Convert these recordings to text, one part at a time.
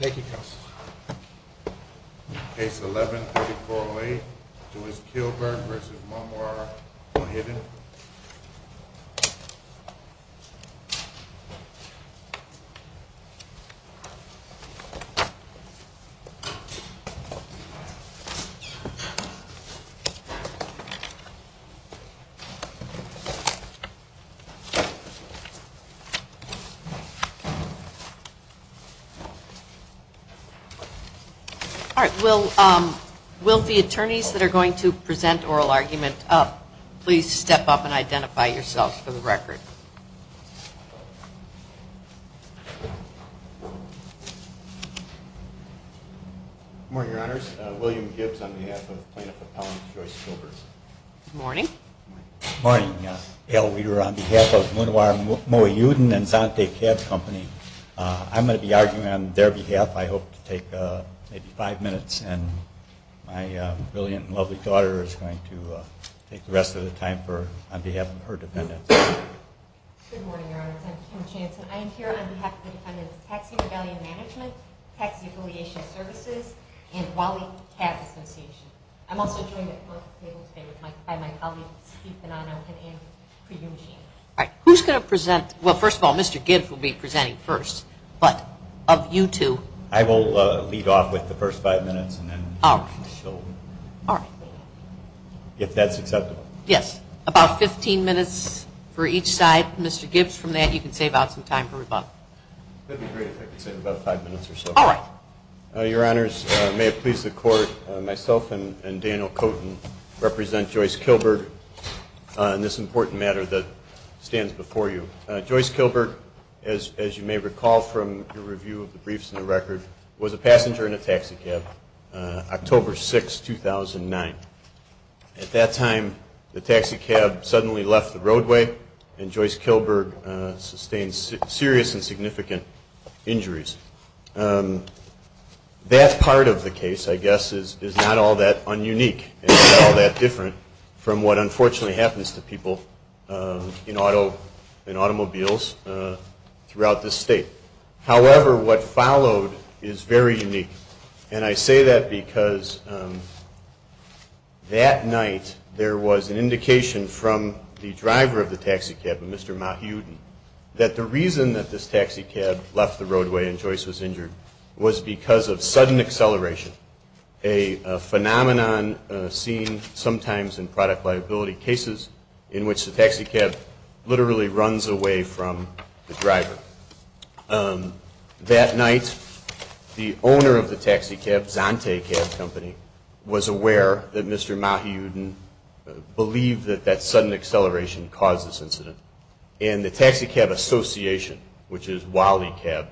Take your case. Case 11-4408, Lewis-Kilburg v. Mohiuddin Will the attorneys that are going to present oral arguments please step up and identify yourselves for the record. Good morning, Your Honors. William Gibbs on behalf of the College of Lewis-Kilburg. Good morning. Good morning. Gail Weaver on behalf of Minowar Mohiuddin and Dante Cab Company. I'm going to be arguing on their behalf. I hope to take maybe five minutes, and my brilliant and lovely daughter is going to take the rest of the time on behalf of her defendant. Good morning, Your Honors. I'm Kim Jansen. I am here on behalf of the Department of Tax and Rebellion Management, Tax Negotiation Services, and Wally Cab Associations. I'm also here to speak on a pre-hearing basis. All right. Who's going to present? Well, first of all, Mr. Gibbs will be presenting first. But of you two... I will leave off with the first five minutes and then... All right. All right. If that's acceptable. Yes. About 15 minutes for each side. Mr. Gibbs, from there, you can save out some time for rebuttal. That's great. I can save about five minutes or so. All right. Your Honors, may it please the Court, myself and Daniel Koten represent Joyce Kilberg on this important matter that stands before you. Joyce Kilberg, as you may recall from the review of the briefs and the record, was a passenger in a taxi cab, October 6, 2009. At that time, the taxi cab suddenly left the roadway and Joyce Kilberg sustained serious and significant injuries. That part of the case, I guess, is not all that ununique and not all that different from what unfortunately happens to people in automobiles throughout the state. However, what followed is very unique. And I say that because that night there was an indication from the driver of the taxi cab, Mr. Mahutin, that the reason that this taxi cab left the roadway and Joyce was injured was because of sudden acceleration, a phenomenon seen sometimes in product liability cases in which the taxi cab literally runs away from the driver. That night, the owner of the taxi cab, Zante Cab Company, was aware that Mr. Mahutin believed that that sudden acceleration caused this incident. And the Taxi Cab Association, which is Wally Cab,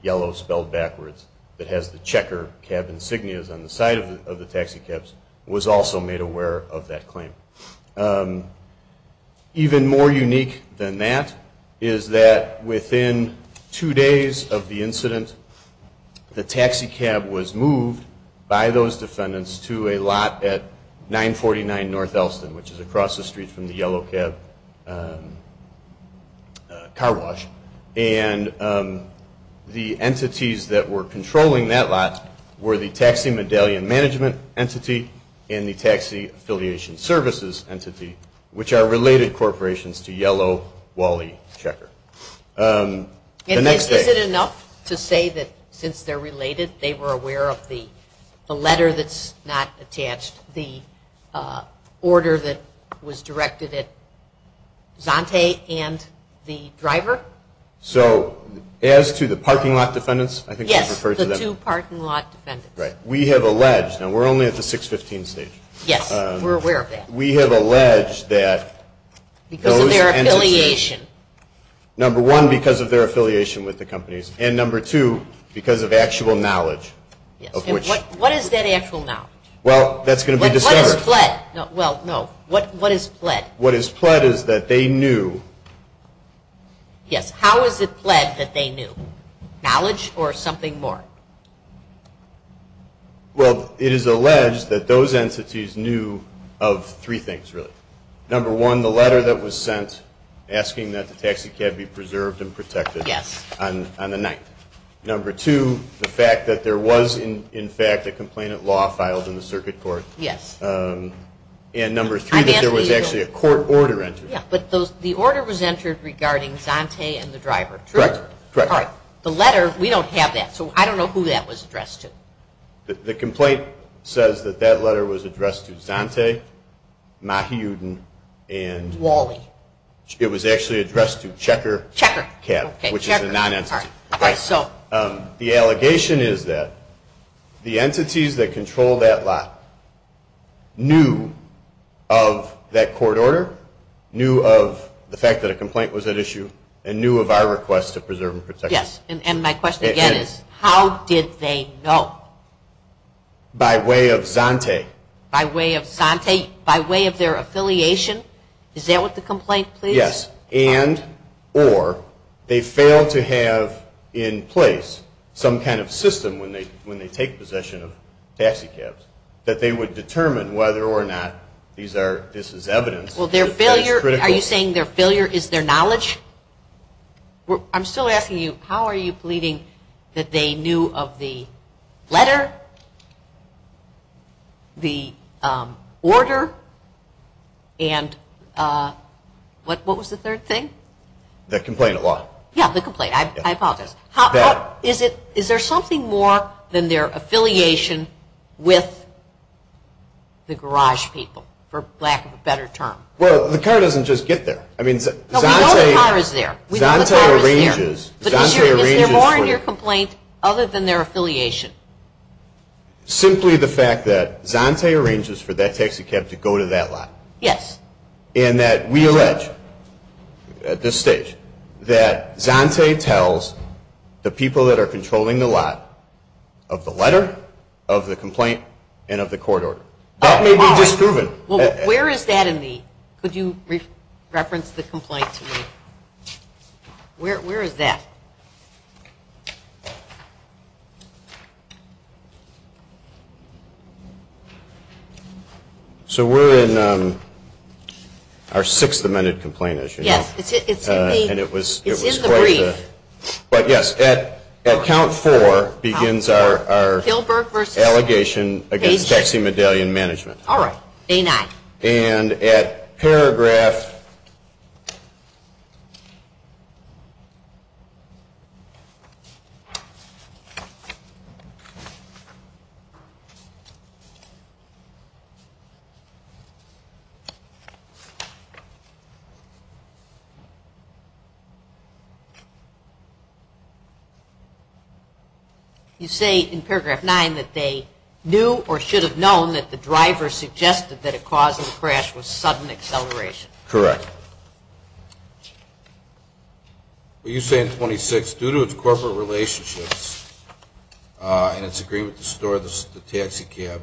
yellow spelled backwards, that has the checker cab insignias on the side of the taxi cabs, was also made aware of that claim. Even more unique than that is that within two days of the incident, the taxi cab was moved by those defendants to a lot at 949 North Elston, which is across the street from the yellow cab car wash. And the entities that were controlling that lot were the Taxi Medallion Management Entity and the Taxi Affiliation Services Entity, which are related corporations to yellow Wally checker. And is it enough to say that since they're related, they were aware of the letter that's not attached, the order that was directed at Zante and the driver? So as to the parking lot defendants? Yes, the two parking lot defendants. Right. We have alleged, and we're only at the 615 stage. Yes, we're aware of that. We have alleged that... Because of their affiliation. Number one, because of their affiliation with the companies. And number two, because of actual knowledge. What is that actual knowledge? Well, that's going to be discussed. What is pled? Well, no. What is pled? What is pled is that they knew. Yes. How is it pled that they knew? Knowledge or something more? Well, it is alleged that those entities knew of three things, really. Number one, the letter that was sent asking that the taxi cab be preserved and protected on the night. Number two, the fact that there was, in fact, a complaint of law filed in the circuit court. Yes. And number three, that there was actually a court order entered. Yes, but the order was entered regarding Zante and the driver, correct? Correct. The letter, we don't have that, so I don't know who that was addressed to. The complaint says that that letter was addressed to Zante, Mahiuddin, and... Wally. It was actually addressed to Checker Cab. Which is the non-entity. Okay, so... The allegation is that the entities that control that lot knew of that court order, knew of the fact that a complaint was at issue, and knew of our request to preserve and protect. Yes, and my question again is, how did they know? By way of Zante. By way of Zante? By way of their affiliation? Is that what the complaint says? Yes, and, or, they fail to have in place some kind of system when they take possession of taxi cabs, that they would determine whether or not this is evidence. Well, their failure, are you saying their failure is their knowledge? I'm still asking you, how are you pleading that they knew of the letter, the order, and, what was the third thing? The complaint at law. Yes, the complaint, I thought of it. Is there something more than their affiliation with the garage people, for lack of a better term? Well, the car doesn't just get there. No, the car is there. Zante arranges. Is there more in your complaint other than their affiliation? Simply the fact that Zante arranges for that taxi cab to go to that lot. Yes. And that we allege, at this stage, that Zante tells the people that are controlling the lot of the letter, of the complaint, and of the court order. That may be disproven. Well, where is that in the, could you reference the complaint to me? Where is that? So, we're in our sixth amended complaint, as you know. Yes, it's in the brief. But, yes, at count four begins our allegation against taxi medallion management. All right, A-9. And at paragraph... You say in paragraph nine that they knew or should have known that the driver suggested that it caused the crash with sudden acceleration. Correct. What do you say in 26? Due to a corporate relationship and its agreement to store the taxi cab,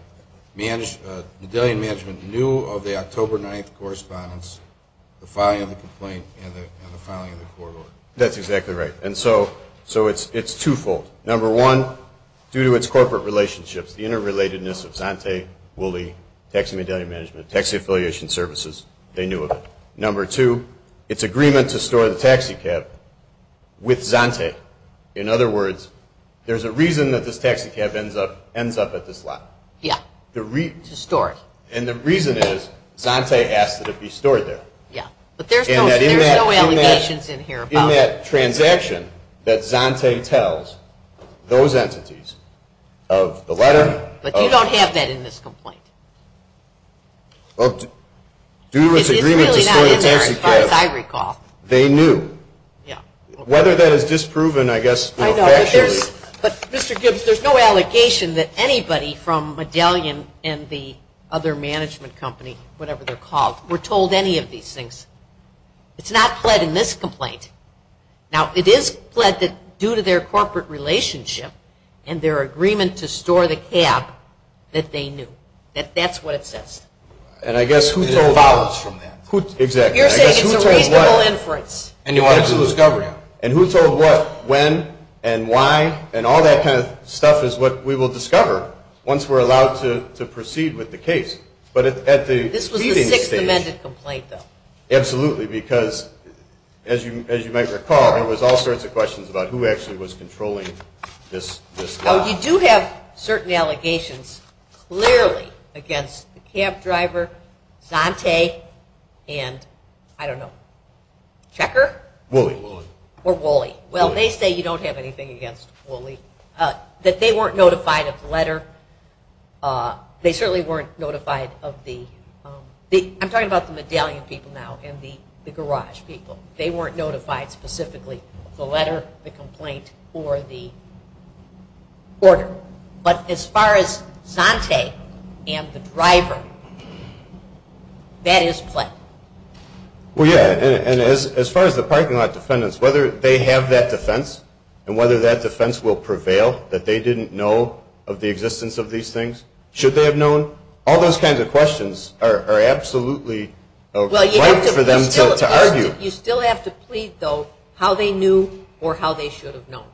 the medallion management knew of the October 9th correspondence, the filing of the complaint, and the filing of the court order. That's exactly right. And so, it's twofold. Number one, due to its corporate relationships, the interrelatedness of Zante, Woolley, taxi medallion management, taxi affiliation services, they knew of it. Number two, its agreement to store the taxi cab with Zante. In other words, there's a reason that this taxi cab ends up at this lot. Yes, to store it. And the reason is Zante asked that it be stored there. Yes, but there's no allegations in here about it. In that transaction that Zante tells those entities of the letter... But you don't have that in this complaint. Well, due to its agreement to store the taxi cab... It's really not in there, as far as I recall. They knew. Yes. Whether that is disproven, I guess... But, Mr. Gibbs, there's no allegation that anybody from Medallion and the other management company, whatever they're called, were told any of these things. It's not pled in this complaint. Now, it is pled that due to their corporate relationship and their agreement to store the cab, that they knew. That's what it says. And I guess who's told us? You're saying it's a real inference. And who told what, when, and why, and all that kind of stuff is what we will discover once we're allowed to proceed with the case. This was your sixth amended complaint, though. Absolutely, because, as you might recall, there was all sorts of questions about who actually was controlling this. You do have certain allegations, clearly, against the cab driver, Zante, and, I don't know, Checker? Woolley. Or Woolley. Well, they say you don't have anything against Woolley. That they weren't notified of the letter. They certainly weren't notified of the... I'm talking about the Medallion people now and the garage people. They weren't notified specifically of the letter, the complaint, or the order. But as far as Zante and the driver, that is what? Well, yeah, and as far as the parking lot defendants, whether they have that defense, and whether that defense will prevail, that they didn't know of the existence of these things, should they have known? All those kinds of questions are absolutely right for them to argue. You still have to plead, though, how they knew or how they should have known.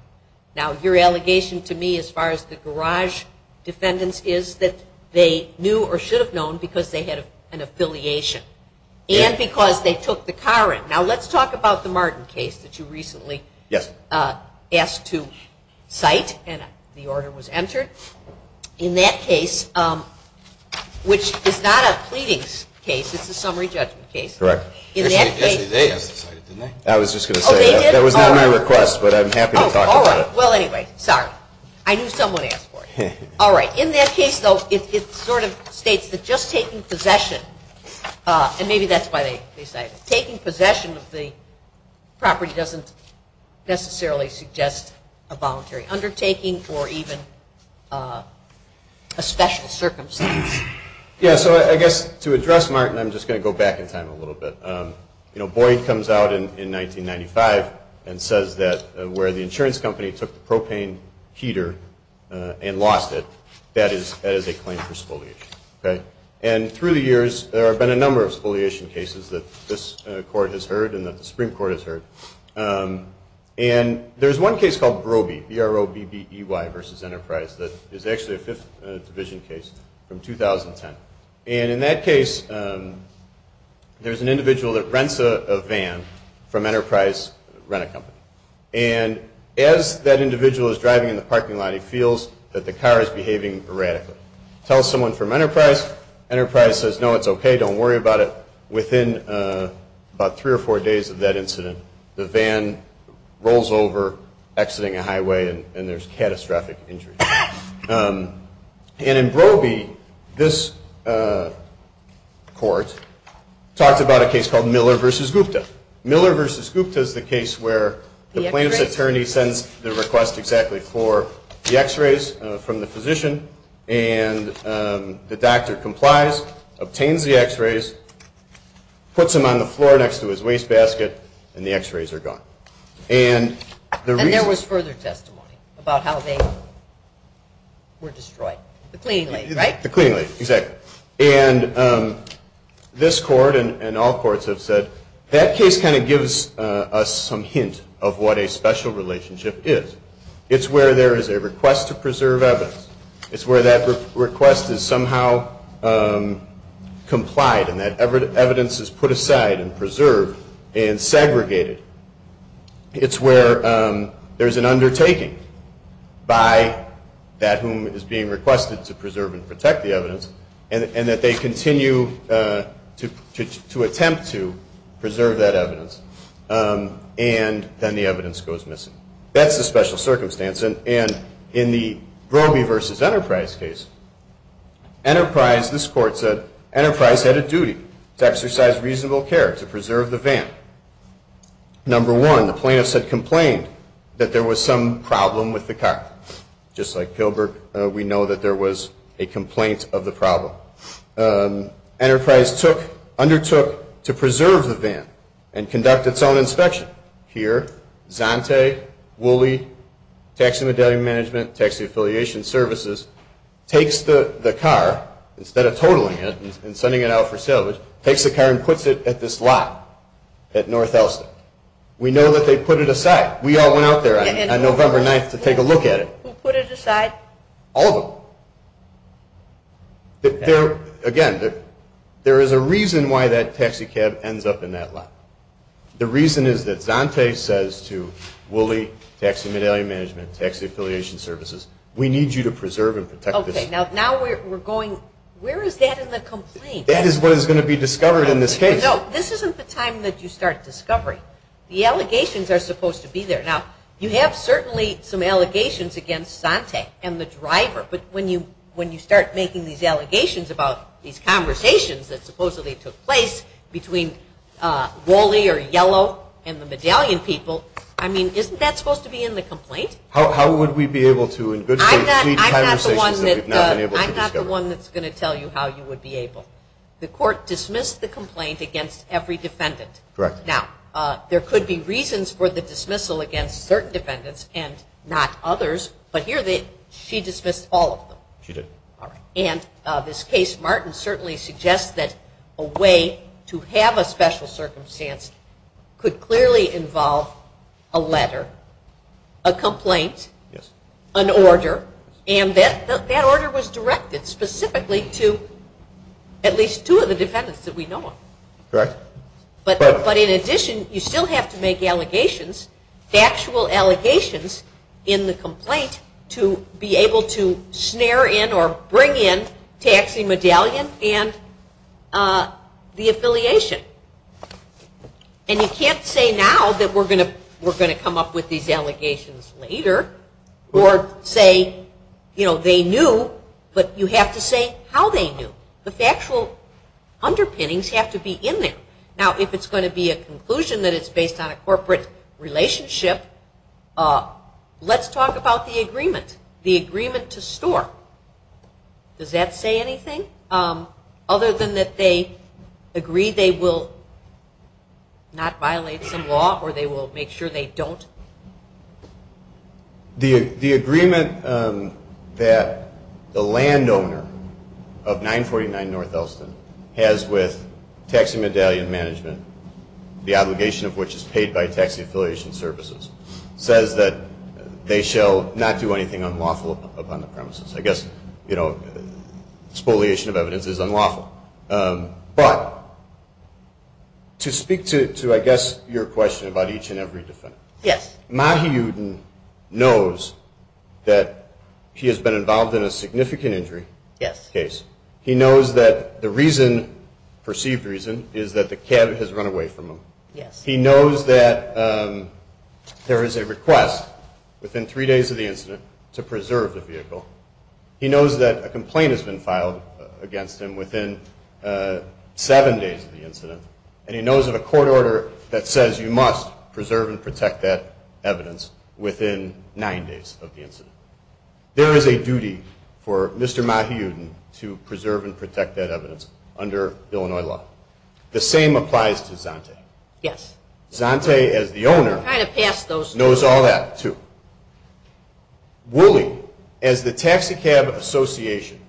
Now, your allegation to me, as far as the garage defendants, is that they knew or should have known because they had an affiliation and because they took the car in. Now, let's talk about the Martin case that you recently asked to cite, and the order was entered. In that case, which is not a pleading case, it's a summary judgment case. Correct. In that case... I was just going to say that was not my request, but I'm happy to talk about it. Oh, all right. Well, anyway, sorry. I knew someone asked for it. All right. In that case, though, it sort of states that just taking possession, and maybe that's why they cite it, taking possession of the property doesn't necessarily suggest a voluntary undertaking or even a special circumstance. Yeah, so I guess to address Martin, I'm just going to go back in time a little bit. Boyd comes out in 1995 and says that where the insurance company took the propane heater and lost it, that is a claim for spoliation. And through the years, there have been a number of spoliation cases that this court has heard and that the Supreme Court has heard. And there's one case called Broby, B-R-O-B-B-E-Y versus Enterprise, that is actually a Fifth Division case from 2010. And in that case, there's an individual that rents a van from Enterprise Rent-A-Company. And as that individual is driving in the parking lot, he feels that the car is behaving erratically. He tells someone from Enterprise. Enterprise says, No, it's okay. Don't worry about it. Within about three or four days of that incident, the van rolls over exiting a highway, and there's catastrophic injury. And in Broby, this court talked about a case called Miller versus Gupta. Miller versus Gupta is the case where the plaintiff's attorney sends the request exactly for the x-rays from the physician, and the doctor complies, obtains the x-rays, puts them on the floor next to his wastebasket, and the x-rays are gone. And there was further testimony about how they were destroyed. The clean lace, right? The clean lace, exactly. And this court and all courts have said, that case kind of gives us some hint of what a special relationship is. It's where there is a request to preserve evidence. It's where that request is somehow complied, and that evidence is put aside and preserved and segregated. It's where there's an undertaking by that whom is being requested to preserve and protect the evidence, and that they continue to attempt to preserve that evidence. And then the evidence goes missing. That's the special circumstance. And in the Grobe versus Enterprise case, Enterprise, this court said, Enterprise had a duty to exercise reasonable care to preserve the van. Number one, the plaintiff had complained that there was some problem with the car. Just like Kilberg, we know that there was a complaint of the problem. Enterprise undertook to preserve the van and conduct its own inspection. We know that here, Zante, Wooley, Taxi Modeling Management, Taxi Affiliation Services, takes the car, instead of totaling it and sending it out for sale, takes the car and puts it at this lot at North Elston. We know that they put it aside. We all went out there on November 9th to take a look at it. Who put it aside? All of them. Again, there is a reason why that taxi cab ends up in that lot. The reason is that Zante says to Wooley, Taxi Modeling Management, Taxi Affiliation Services, we need you to preserve and protect this. Okay, now we're going, where is that in the complaint? That is what is going to be discovered in this case. No, this isn't the time that you start discovering. The allegations are supposed to be there. Now, you have certainly some allegations against Zante and the driver, but when you start making these allegations about these conversations that supposedly took place between Wooley or Yellow and the medallion people, I mean, isn't that supposed to be in the complaint? How would we be able to, in good faith, I'm not the one that's going to tell you how you would be able to. The court dismissed the complaint against every defendant. Correct. Now, there could be reasons for the dismissal against certain defendants and not others, but here she dismissed all of them. She did. And this case, Martin, certainly suggests that a way to have a special circumstance could clearly involve a letter, a complaint, an order, and that order was directed specifically to at least two of the defendants that we know of. Correct. But in addition, you still have to make allegations, factual allegations, in the complaint to be able to snare in or bring in Taxi Medallion and the affiliation. And you can't say now that we're going to come up with these allegations later or say, you know, they knew, but you have to say how they knew. The factual underpinnings have to be in there. Now, if it's going to be a conclusion that it's based on a corporate relationship, let's talk about the agreement, the agreement to store. Does that say anything other than that they agree they will not violate the law or they will make sure they don't? The agreement that the landowner of 949 North Elston has with Taxi Medallion Management, the obligation of which is paid by Taxi Affiliation Services, says that they shall not do anything unlawful upon the premises. I guess, you know, exfoliation of evidence is unlawful. But to speak to, I guess, your question about each and every defendant. Yes. Mahi Uden knows that he has been involved in a significant injury case. He knows that the reason, perceived reason, is that the cab has run away from him. He knows that there is a request within three days of the incident to preserve the vehicle. He knows that a complaint has been filed against him within seven days of the incident. And he knows of a court order that says you must preserve and protect that evidence within nine days of the incident. There is a duty for Mr. Mahi Uden to preserve and protect that evidence under Illinois law. The same applies to Zante. Yes. Zante, as the owner, knows all that too. Wooley, as the Taxi Cab Association,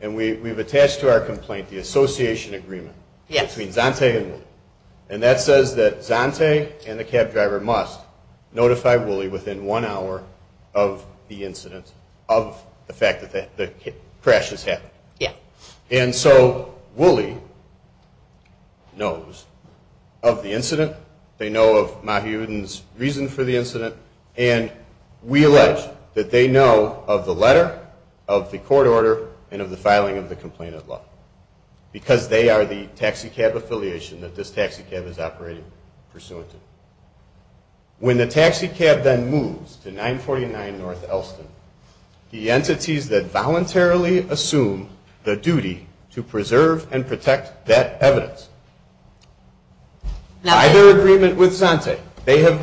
and we've attached to our complaint the association agreement between Zante and Wooley. And that says that Zante and the cab driver must notify Wooley within one hour of the incident, of the fact that the crash has happened. Yes. And so Wooley knows of the incident. They know of Mahi Uden's reason for the incident. And we allege that they know of the letter, of the court order, and of the filing of the complaint of law. Because they are the taxi cab affiliation that this taxi cab is operating pursuant to. When the taxi cab then moves to 949 North Elston, the entities that voluntarily assume the duty to preserve and protect that evidence, by their agreement with Zante, they have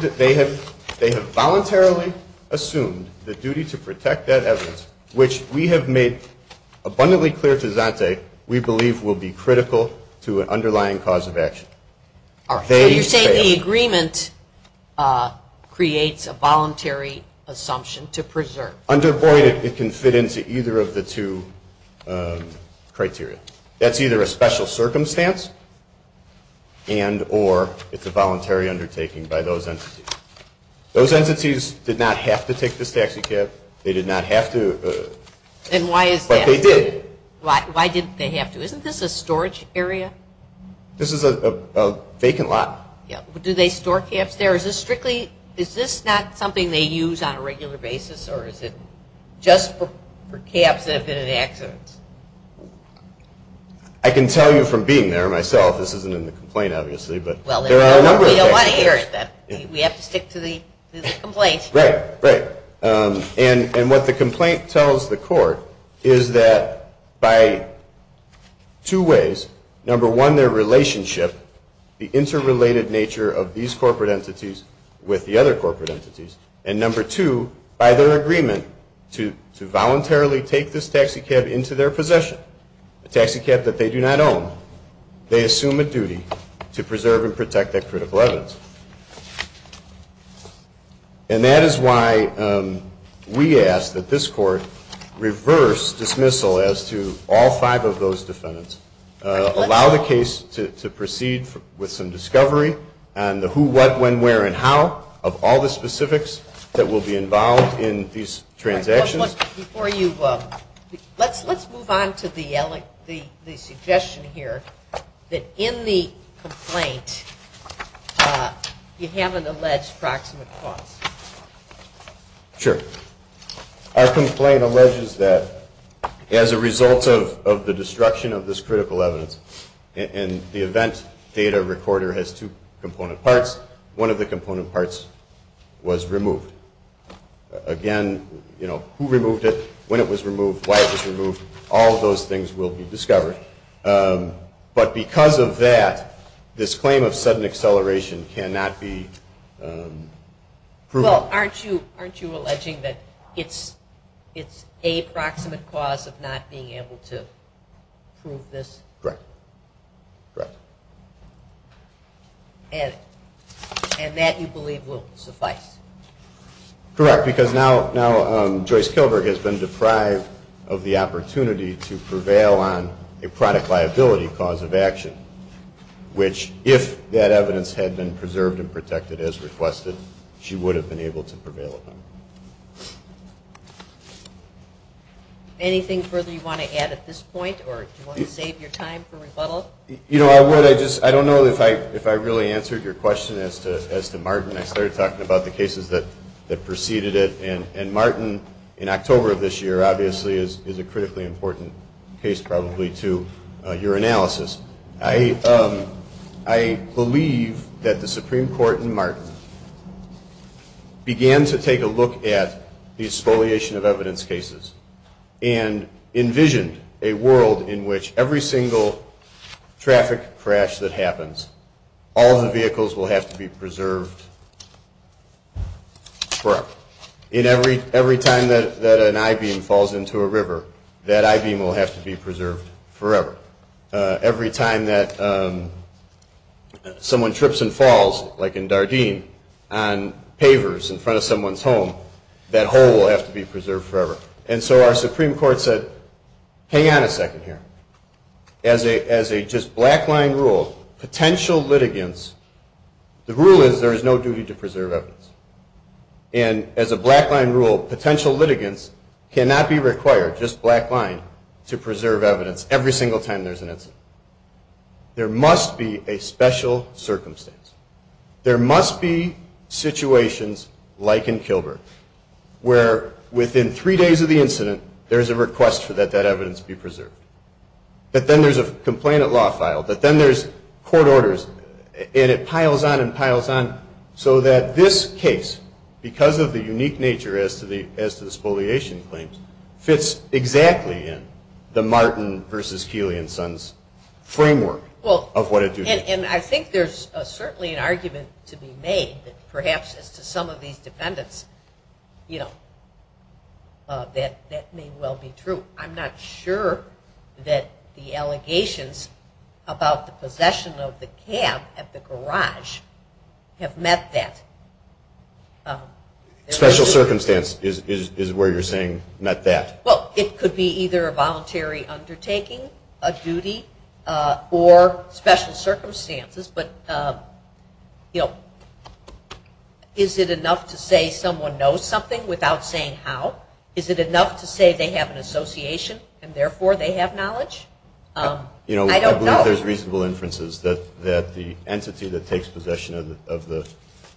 voluntarily assumed the duty to protect that evidence, which we have made abundantly clear to Zante, we believe will be critical to an underlying cause of action. All right. So you're saying the agreement creates a voluntary assumption to preserve. Under void, it can fit into either of the two criteria. That's either a special circumstance, and or it's a voluntary undertaking by those entities. Those entities did not have to take this taxi cab. They did not have to. Then why is that? But they did. Why did they have to? Isn't this a storage area? This is a vacant lot. Yeah. Do they store cabs there? Is this strictly, is this not something they use on a regular basis, or is it just for cabs that have been enacted? I can tell you from being there myself, this isn't in the complaint, obviously, but there are a number of things. We have to stick to the complaint. Right. And what the complaint tells the court is that by two ways, number one, their relationship, the interrelated nature of these corporate entities with the other corporate entities, and number two, by their agreement to voluntarily take this taxi cab into their possession, a taxi cab that they do not own, they assume a duty to preserve and protect that critical evidence. And that is why we ask that this court reverse dismissal as to all five of those defendants, allow the case to proceed with some discovery on the who, what, when, where, and how of all the specifics that will be involved in these transactions. Before you, let's move on to the suggestion here that in the complaint, you have an alleged proximate cause. Sure. Our complaint alleges that as a result of the destruction of this critical evidence, and the event data recorder has two component parts, one of the component parts was removed. Again, you know, who removed it, when it was removed, why it was removed, all of those things will be discovered. But because of that, this claim of sudden acceleration cannot be proven. Well, aren't you alleging that it's a proximate cause of not being able to prove this? Correct, correct. And that, you believe, will suffice? Correct, because now Joyce Kilburg has been deprived of the opportunity to prevail on a product liability cause of action, which if that evidence had been preserved and protected as requested, she would have been able to prevail with them. Anything further you want to add at this point, or do you want to save your time for rebuttal? You know, I would. I just, I don't know if I really answered your question as to Martin. I started talking about the cases that preceded it, and Martin, in October of this year, obviously is a critically important case probably to your analysis. I believe that the Supreme Court in Martin began to take a look at the exfoliation of evidence cases and envisioned a world in which every single traffic crash that happens, all the vehicles will have to be preserved forever. Every time that an I-Beam falls into a river, that I-Beam will have to be preserved forever. Every time that someone trips and falls, like in Dardene, on pavers in front of someone's home, that hole will have to be preserved forever. And so our Supreme Court said, hang on a second here. As a just black line rule, potential litigants, the rule is there is no duty to preserve evidence. And as a black line rule, potential litigants cannot be required, just black line, to preserve evidence every single time there's an incident. There must be a special circumstance. There must be situations, like in Kilburn, where within three days of the incident, there's a request for that evidence to be preserved. But then there's a complainant law file, but then there's court orders, and it piles on and piles on so that this case, because of the unique nature as to the exfoliation claims, fits exactly in the Martin v. Keeley and Sons framework of what it does. And I think there's certainly an argument to be made that perhaps to some of these defendants, you know, that that may well be true. I'm not sure that the allegations about the possession of the cab at the garage have met that. Special circumstance is where you're saying met that? Well, it could be either a voluntary undertaking, a duty, or special circumstances. But, you know, is it enough to say someone knows something without saying how? Is it enough to say they have an association and therefore they have knowledge? I don't know. I believe there's reasonable inferences that the entity that takes possession of the...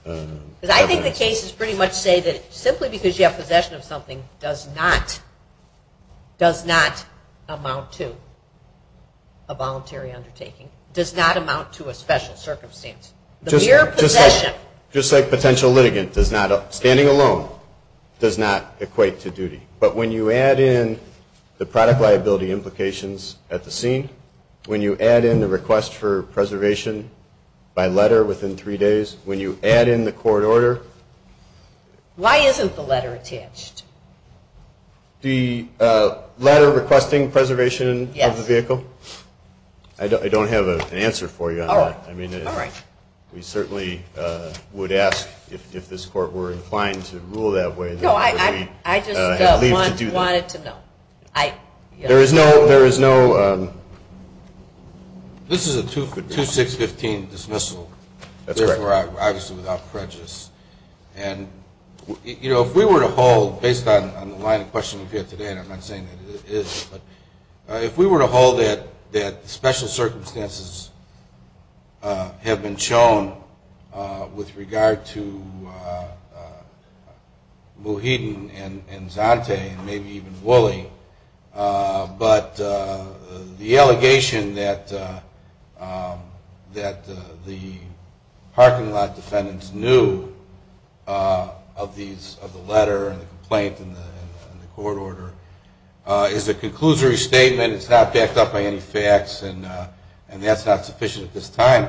Because I think the cases pretty much say that simply because you have possession of something does not amount to a voluntary undertaking, does not amount to a special circumstance. The mere possession... Just like potential litigant, standing alone does not equate to duty. But when you add in the product liability implications at the scene, when you add in the request for preservation by letter within three days, when you add in the court order... Why isn't the letter attached? The letter requesting preservation of the vehicle? I don't have an answer for you on that. We certainly would ask if this court were inclined to rule that way. No, I just wanted to know. There is no... This is a 2-6-15 dismissal. That's right. Obviously without prejudice. And, you know, if we were to hold, based on the line of questioning here today, and I'm not saying that it is, but if we were to hold that special circumstances have been shown with regard to Muhyiddin and Zante and maybe even Woolley, but the allegation that the parking lot defendants knew of the letter and the complaint in the court order is a conclusory statement. It's not backed up by any facts, and that's not sufficient at this time.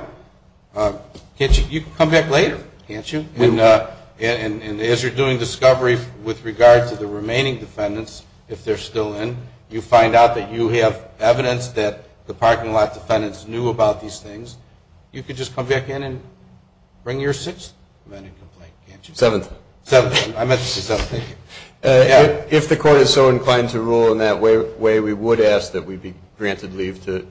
You can come back later, can't you? And as you're doing discovery with regard to the remaining defendants, if they're still in, you find out that you have evidence that the parking lot defendants knew about these things, you could just come back in and bring your six? Seven. Seven. I mentioned seven. If the court is so inclined to rule in that way, we would ask that we be granted leave to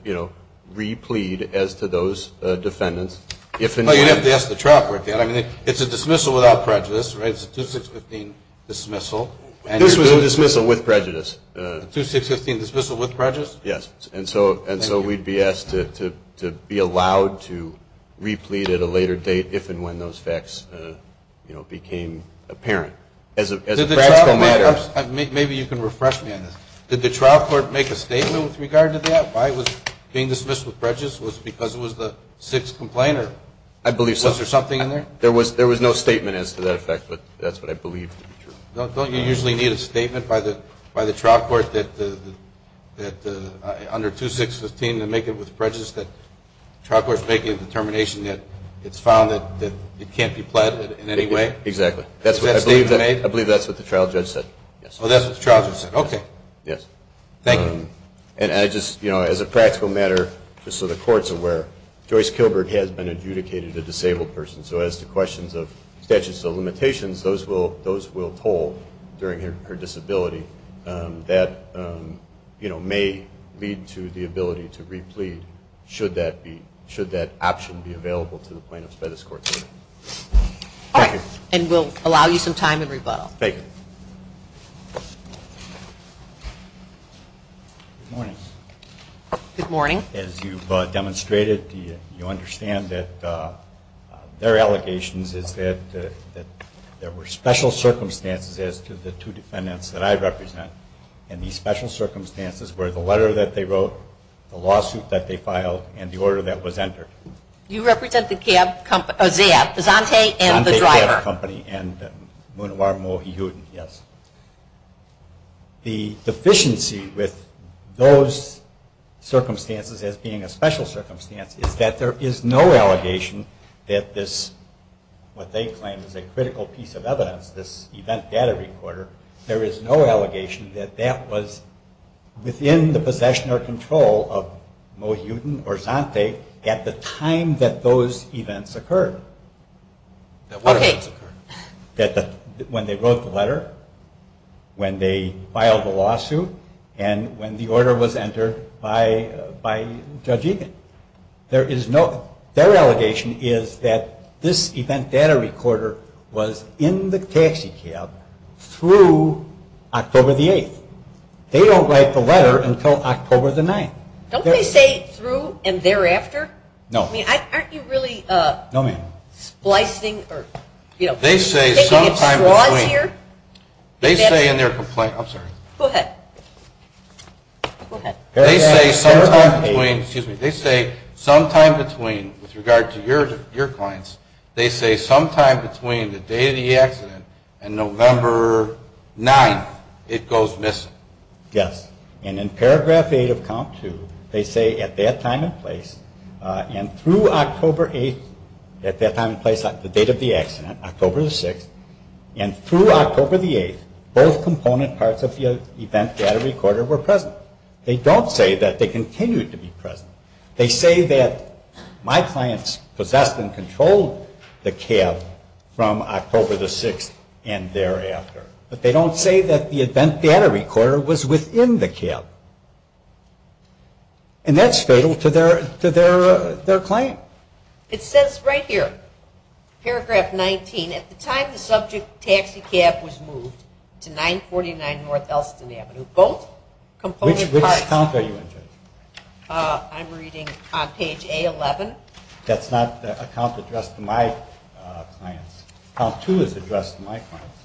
re-plead as to those defendants. But you have to ask the trial court that. It's a dismissal without prejudice, right? It's a 2-6-15 dismissal. It's a dismissal with prejudice. A 2-6-15 dismissal with prejudice? Yes, and so we'd be asked to be allowed to re-plead at a later date if and when those facts became apparent. Maybe you can refresh me on this. Did the trial court make a statement with regard to that? Why was it being dismissed with prejudice? Was it because it was the sixth complaint? I believe so. Was there something in there? There was no statement as to that fact, but that's what I believe to be true. Don't you usually need a statement by the trial court under 2-6-15 to make it with prejudice that the trial court is making a determination that it's found that it can't be pledged in any way? Exactly. I believe that's what the trial judge said. Oh, that's what the trial judge said. Okay. Yes. Thank you. As a practical matter, just so the courts are aware, Joyce Kilberg has been adjudicated a disabled person, so as to questions of statutes of limitations, those will hold during her disability. That may lead to the ability to re-plead, should that option be available to the plaintiffs by this court hearing. Thank you. And we'll allow you some time to rebuttal. Thank you. Good morning. Good morning. As you've demonstrated, you understand that their allegations is that there were special circumstances as to the two defendants that I represent, and these special circumstances were the letter that they wrote, the lawsuit that they filed, and the order that was entered. You represent the cab company? Oh, the cab. The Zante and the driver. The Zante and the driver company, and Mounawaramohi-Hewitt, yes. The deficiency with those circumstances as being a special circumstance is that there is no allegation that this, what they claim is a critical piece of evidence, this event data recorder, there is no allegation that that was within the possession or control of Mohudin or Zante at the time that those events occurred. Okay. When they wrote the letter, when they filed the lawsuit, and when the order was entered by Judge Hewitt. Their allegation is that this event data recorder was in the taxi cab through October the 8th. They don't write the letter until October the 9th. Don't they say through and thereafter? No. I mean, aren't you really splicing? They say sometime between. They say in their complaint. I'm sorry. Go ahead. Go ahead. They say sometime between. Excuse me. They say sometime between, with regard to your points, they say sometime between the day of the accident and November 9th it goes missing. Yes. And in paragraph 8 of Comp 2, they say at that time and place, and through October 8th, at that time and place of the date of the accident, October the 6th, and through October the 8th both component parts of the event data recorder were present. They don't say that they continue to be present. They say that my clients possessed and controlled the cab from October the 6th and thereafter. But they don't say that the event data recorder was within the cab. And that's fatal to their claim. It says right here, paragraph 19, at the time the subject taxi cab was moved to 949 North Elston Avenue, both component parts. Which account are you in? I'm reading page A11. That's not the account addressed to my clients. Comp 2 is addressed to my clients.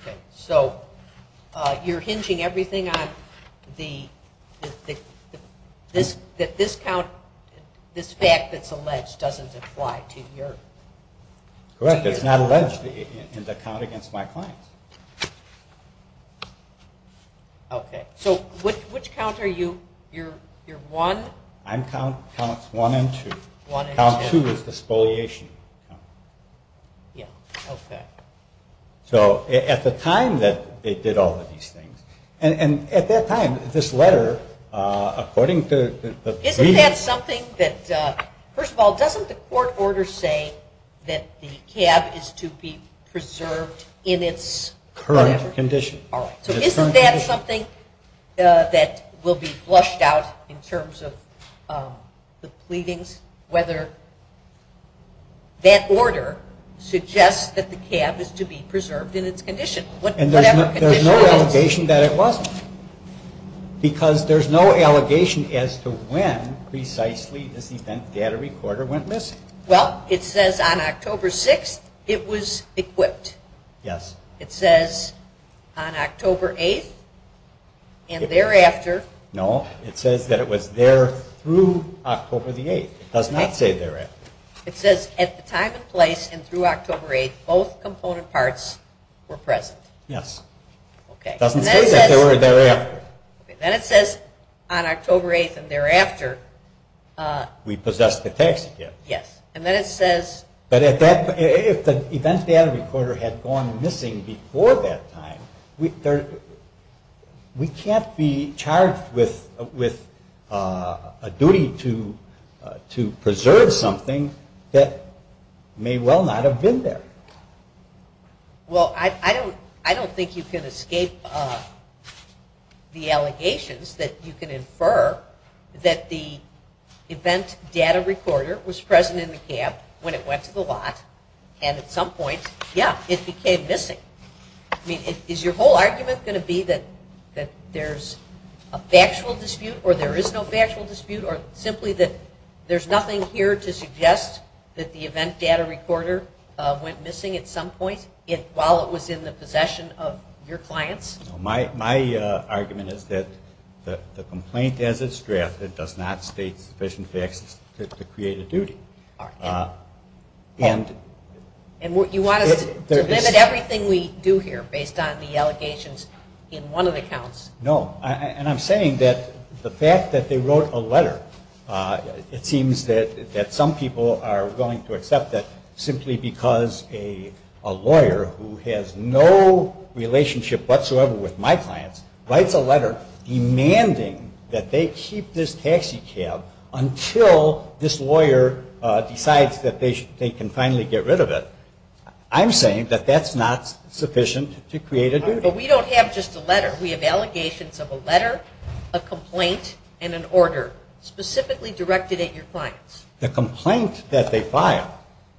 Okay. So you're hinging everything on the, that this count, this fact that it's alleged doesn't apply to yours. Correct. It's not alleged in the count against my client. Okay. So which counts are you? You're 1? I'm counts 1 and 2. Count 2 is the spoliation. Yeah. Okay. So at the time that they did all of these things, and at that time, this letter, according to the Isn't that something that, first of all, doesn't the court order say that the cab is to be preserved in its current condition? So isn't that something that will be flushed out in terms of the pleadings? Whether that order suggests that the cab is to be preserved in its condition. And there's no allegation that it wasn't. Because there's no allegation as to when precisely this event data recorder went missing. Well, it says on October 6th it was equipped. Yes. It says on October 8th and thereafter. No. It says that it was there through October the 8th. It does not say thereafter. It says at the time of place and through October 8th, both component parts were present. Yes. Okay. It doesn't say that they were thereafter. Then it says on October 8th and thereafter. We possess the text, yes. Yes. And then it says. But if the event data recorder had gone missing before that time, we can't be charged with a duty to preserve something that may well not have been there. Well, I don't think you can escape the allegations that you can infer that the event data recorder was present in the cab when it went to the lot. And at some point, yes, it became missing. I mean, is your whole argument going to be that there's a factual dispute or there is no factual dispute? Or simply that there's nothing here to suggest that the event data recorder went missing at some point while it was in the possession of your clients? My argument is that the complaint has its draft. It does not state sufficient facts to create a duty. And you want to limit everything we do here based on the allegations in one of the counts? No. And I'm saying that the fact that they wrote a letter, it seems that some people are willing to accept that simply because a lawyer who has no relationship whatsoever with my clients writes a letter demanding that they keep this taxi cab until this lawyer decides that they can finally get rid of it. I'm saying that that's not sufficient to create a duty. But we don't have just a letter. We have allegations of a letter, a complaint, and an order specifically directed at your clients. The complaint that they filed,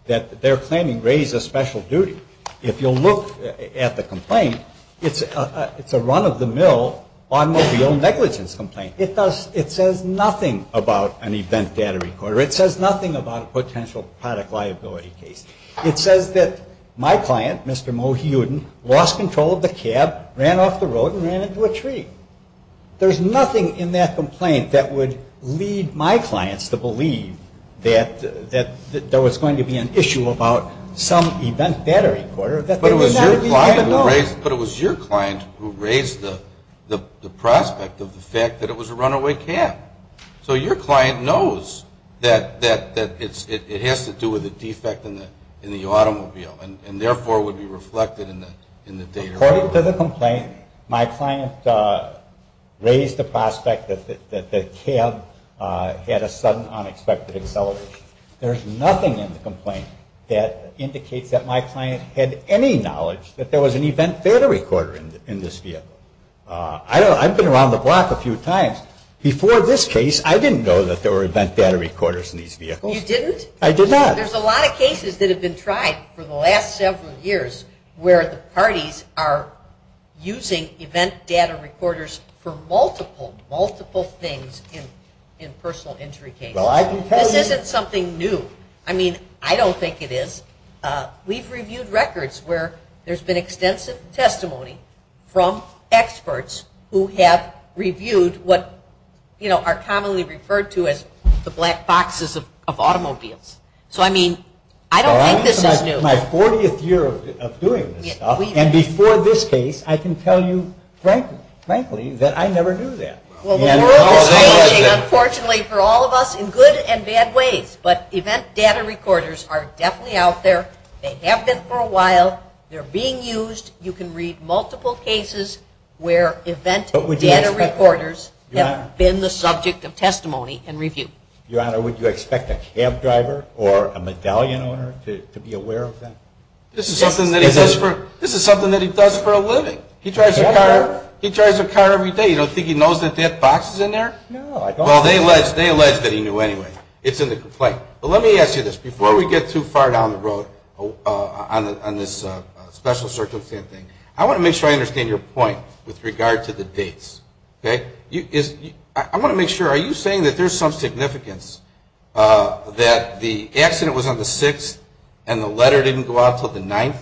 that they're claiming raised a special duty. If you'll look at the complaint, it's a run-of-the-mill automobile negligence complaint. It says nothing about an event data recorder. It says nothing about a potential product liability case. It says that my client, Mr. Moe Hewden, lost control of the cab, ran off the road, and ran into a tree. There's nothing in that complaint that would lead my clients to believe that there was going to be an issue about some event data recorder. But it was your client who raised the prospect of the fact that it was a runaway cab. So your client knows that it has to do with a defect in the automobile, and therefore would be reflected in the data. According to the complaint, my client raised the prospect that the cab had a sudden, unexpected acceleration. There's nothing in the complaint that indicates that my client had any knowledge that there was an event data recorder in this vehicle. I've been around the block a few times. Before this case, I didn't know that there were event data recorders in these vehicles. You didn't? I did not. There's a lot of cases that have been tried for the last several years where the parties are using event data recorders for multiple, multiple things in personal injury cases. And it's something new. I mean, I don't think it is. We've reviewed records where there's been extensive testimony from experts who have reviewed what, you know, are commonly referred to as the black boxes of automobiles. So, I mean, I don't think this is new. Well, this is my 40th year of doing this stuff, and before this case, I can tell you frankly that I never knew that. Unfortunately for all of us, in good and bad ways, but event data recorders are definitely out there. They have been for a while. They're being used. You can read multiple cases where event data recorders have been the subject of testimony and review. Your Honor, would you expect a cab driver or a medallion owner to be aware of that? This is something that he does for a living. He drives a car every day. You don't think he knows that that box is in there? No, I don't. Well, they alleged that he knew anyway. It's in the complaint. But let me ask you this. Before we get too far down the road on this special circumstance thing, I want to make sure I understand your point with regard to the dates, okay? I want to make sure, are you saying that there's some significance that the accident was on the 6th and the letter didn't go out until the 9th?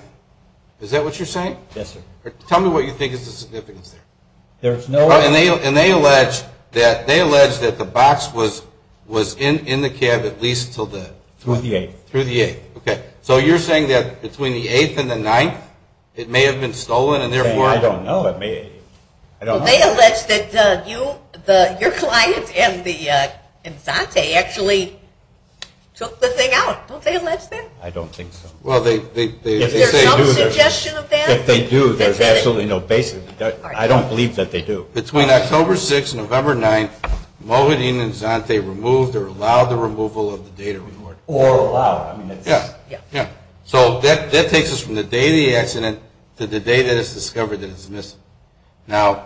Is that what you're saying? Yes, sir. Tell me what you think is the significance of that. And they allege that the box was in the cab at least until the... Through the 8th. Through the 8th, okay. So you're saying that between the 8th and the 9th it may have been stolen and therefore... I don't know. They allege that your client and Dante actually took the thing out. Don't they allege that? I don't think so. Is there some suggestion of that? If they do, there's absolutely no basis. I don't believe that they do. Between October 6th and November 9th, Mohit, Ian, and Dante removed or allowed the removal of the data report. Or allowed. Yeah. So that takes us from the day of the accident to the day that it's discovered that it's missing. Now,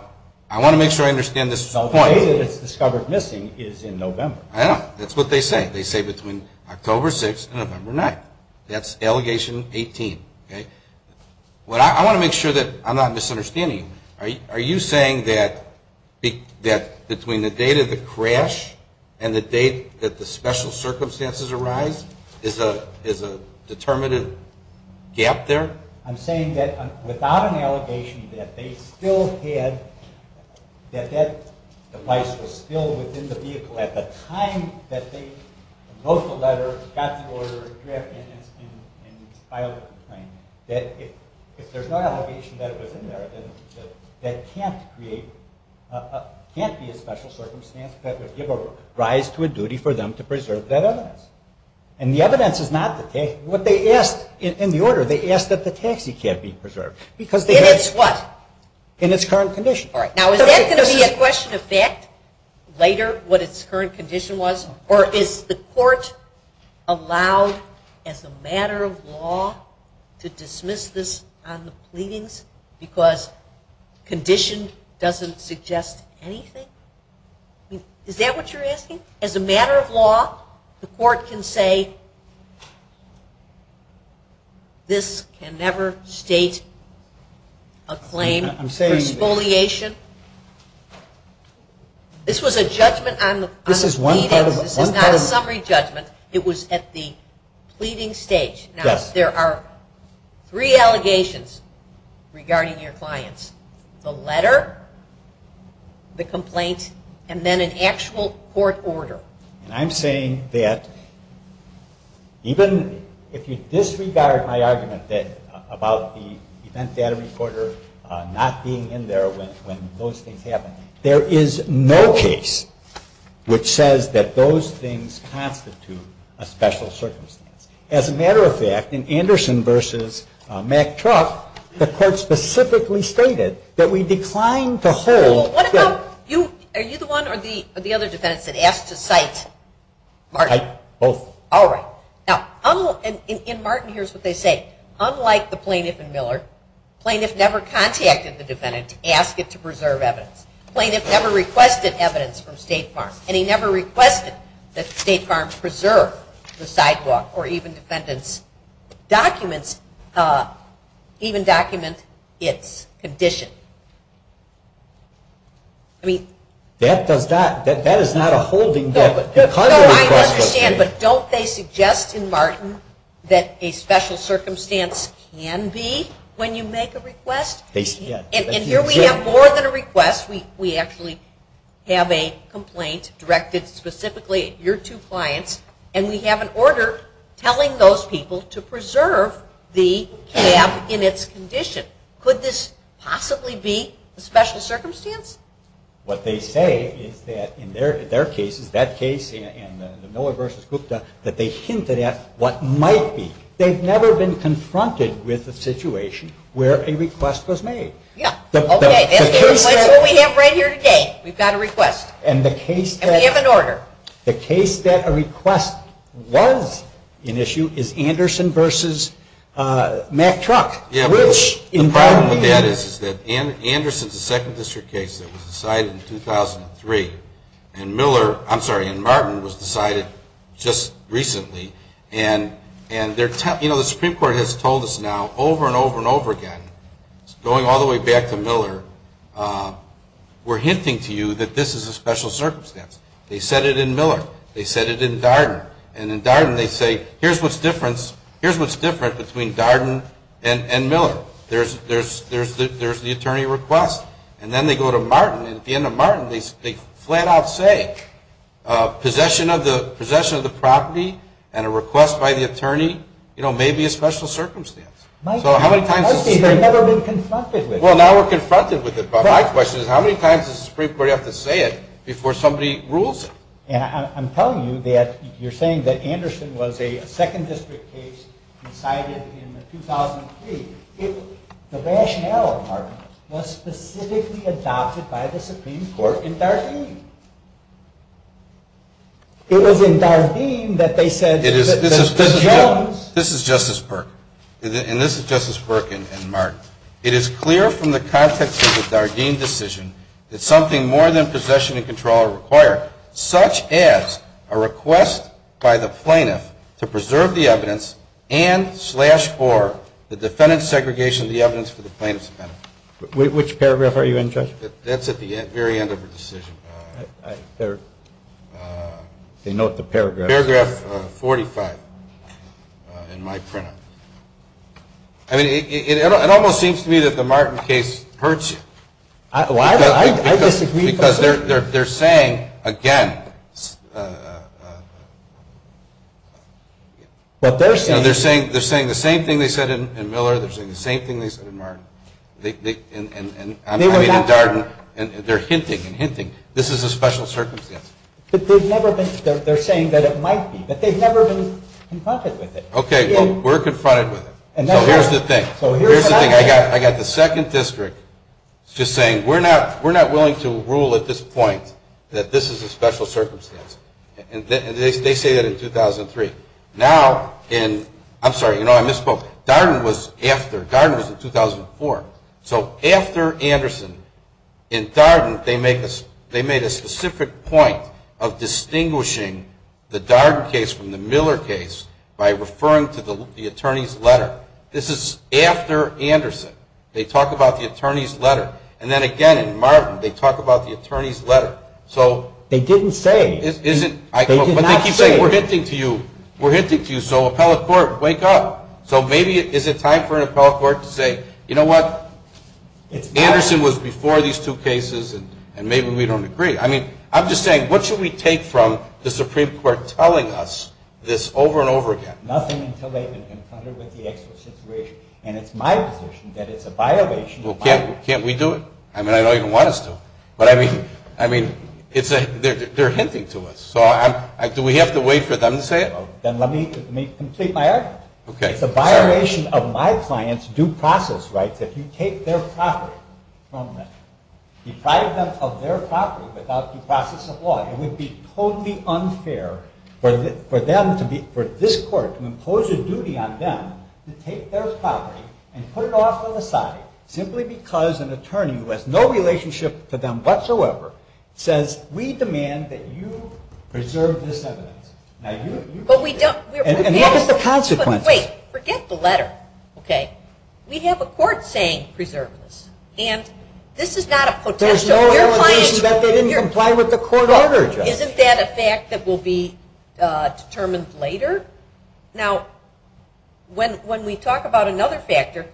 I want to make sure I understand this point. The day that it's discovered missing is in November. I know. That's what they say. They say between October 6th and November 9th. That's allegation 18. I want to make sure that I'm not misunderstanding. Are you saying that between the date of the crash and the date that the special circumstances arise is a determinative gap there? I'm saying that without an allegation that that device was still within the vehicle at the time that they proposed the letter, got the order, and filed the complaint, that if there's no allegation that it was in there, that can't be a special circumstance that would give a rise to a duty for them to preserve that evidence. And the evidence is not the case. In the order, they ask that the taxi can't be preserved. In its what? In its current condition. Now, is that going to be a question of fact later, what its current condition was? Or is the court allowed as a matter of law to dismiss this on the pleadings because conditions doesn't suggest anything? Is that what you're asking? As a matter of law, the court can say this can never state a claim for exfoliation. This was a judgment on the pleadings, not a summary judgment. It was at the pleading stage. Now, if there are three allegations regarding your clients, the letter, the complaint, and then an actual court order. I'm saying that even if you disregard my argument about the event data recorder not being in there when those things happened, there is no case which says that those things constitute a special circumstance. As a matter of fact, in Anderson v. Mack Truck, the court specifically stated that we declined to hold. Are you the one or the other defendant that asked to cite Martin? Both. All right. Now, in Martin, here's what they say. Unlike the plaintiff in Miller, plaintiff never contacted the defendant to ask it to preserve evidence. Plaintiff never requested evidence from State Farm. And he never requested that State Farm preserve the sidewalk or even the defendant's documents, even document its condition. That does not, that is not a holding. I understand, but don't they suggest in Martin that a special circumstance can be when you make a request? Yes. And here we have more than a request. We actually have a complaint directed specifically at your two clients, and we have an order telling those people to preserve the cab in its condition. Could this possibly be a special circumstance? What they say is that in their case, in that case, in Miller v. Gupta, that they hinted at what might be. They've never been confronted with a situation where a request was made. Okay. That's what we have right here today. We've got a request. And we have an order. The case that a request was an issue is Anderson v. Mack Truck. The problem with that is that Anderson is the second district case that was decided in 2003, and Miller, I'm sorry, and Martin was decided just recently, and the Supreme Court has told us now over and over and over again, going all the way back to Miller, were hinting to you that this is a special circumstance. They said it in Miller. They said it in Darden. And in Darden they say, here's what's different between Darden and Miller. There's the attorney request. And then they go to Martin, and at the end of Martin they flat out say, possession of the property and a request by the attorney may be a special circumstance. They've never been confronted with it. Well, now we're confronted with it, but my question is, how many times does the Supreme Court have to say it before somebody rules? And I'm telling you that you're saying that Anderson was a second district case decided in 2003. The rationale, Martin, was specifically adopted by the Supreme Court in Darden. This is Justice Burke, and this is Justice Burke and Martin. It is clear from the context of the Darden decision that something more than possession and control are required, such as a request by the plaintiff to preserve the evidence and slash for the defendant's segregation of the evidence for the plaintiff's penalty. Which paragraph are you in, Judge? That's at the very end of the decision. They note the paragraph. Paragraph 45 in my print. I mean, it almost seems to me that the Martin case hurts you. I disagree. Because they're saying, again, they're saying the same thing they said in Miller, they're saying the same thing they said in Martin. I mean, in Darden, they're hinting and hinting. This is a special circumstance. But they're saying that it might be, but they've never been confronted with it. Okay, well, we're confronted with it. So here's the thing. I got the second district just saying, we're not willing to rule at this point that this is a special circumstance. And they say that in 2003. I'm sorry, you know, I misspoke. Darden was in 2004. So after Anderson, in Darden, they made a specific point of distinguishing the Darden case from the Miller case by referring to the attorney's letter. This is after Anderson. They talk about the attorney's letter. And then, again, in Martin, they talk about the attorney's letter. They didn't say. But they keep saying, we're hinting to you, so appellate court, wake up. So maybe is it time for an appellate court to say, you know what, Anderson was before these two cases, and maybe we don't agree. I mean, I'm just saying, what should we take from the Supreme Court telling us this over and over again? Nothing until they've been confronted with the actual situation. And it's my position that it's a violation. Well, can't we do it? I mean, I don't even want us to. But, I mean, they're hinting to us. So do we have to wait for them to say it? Then let me complete my answer. Okay. It's a violation of my client's due process rights that you take their property from them. Deprive them of their property without due process of law. It would be totally unfair for them to be ‑‑ for this court to impose a duty on them to take their property and put it off on the side simply because an attorney who has no relationship to them whatsoever says, we demand that you preserve this evidence. Now, you ‑‑ But we don't ‑‑ And look at the consequences. But wait. Forget the letter. Okay. We have a court saying preserve this. And this is not a protest. So we're playing ‑‑ There's no evidence that they didn't comply with the court order. Isn't that a fact that will be determined later? Now, when we talk about another factor,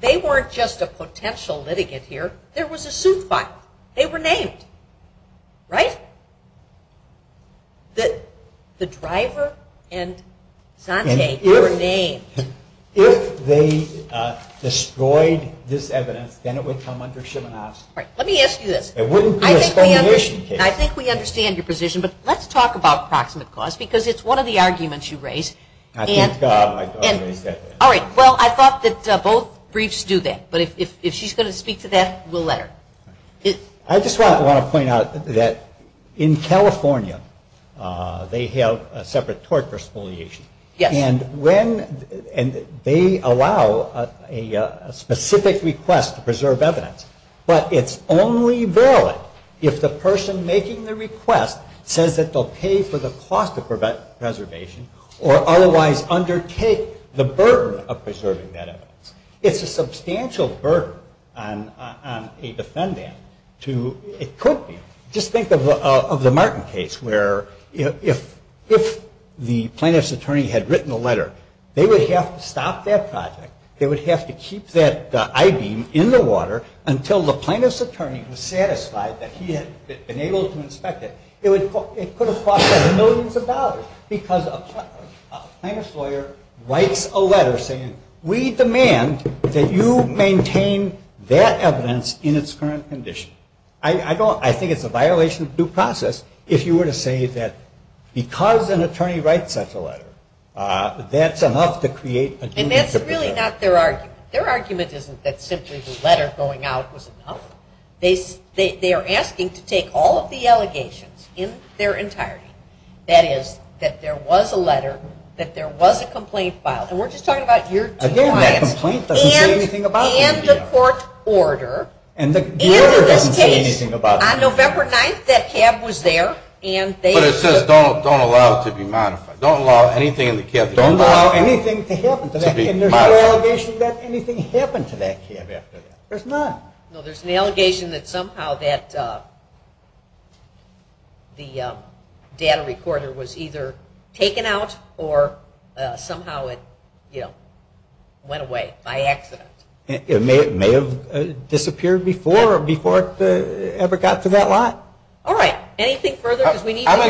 they weren't just a potential litigant here. There was a suit filed. They were named. Right? The driver and Dante were named. If they destroyed this evidence, then it would come under shim and ask. Right. Let me ask you this. I think we understand your position. But let's talk about proximate cause because it's one of the arguments you raise. All right. Well, I thought that both briefs do that. But if she's going to speak to that, we'll let her. I just want to point out that in California, they have a separate court for spoliation. And when ‑‑ and they allow a specific request to preserve evidence. But it's only valid if the person making the request says that they'll pay for the cost of preservation or otherwise undertake the burden of preserving that evidence. It's a substantial burden on a defendant to appropriate. Just think of the Martin case where if the plaintiff's attorney had written a letter, they would have to stop that project. They would have to keep that I-beam in the water until the plaintiff's attorney was satisfied that he had been able to inspect it. It would put a cost of millions of dollars because a plaintiff's lawyer writes a letter saying, we demand that you maintain that evidence in its current condition. I think it's a violation of due process if you were to say that because an attorney writes us a letter, that's enough to create a difference. And that's really not their argument. Their argument isn't that simply the letter going out was a problem. They are asking to take all of the allegations in their entirety. That is, that there was a letter, that there was a complaint filed. And we're just talking about year two. And the court order. And the order doesn't say anything about it. On November 9th, that tab was there. But it says don't allow it to be modified. Don't allow anything in the tab. Don't allow anything to happen to that tab. And there's no allegation that anything happened to that tab after that. There's not. No, there's an allegation that somehow that data recorder was either taken out or somehow it went away by accident. It may have disappeared before it ever got to that lot. All right. Anything further? I'm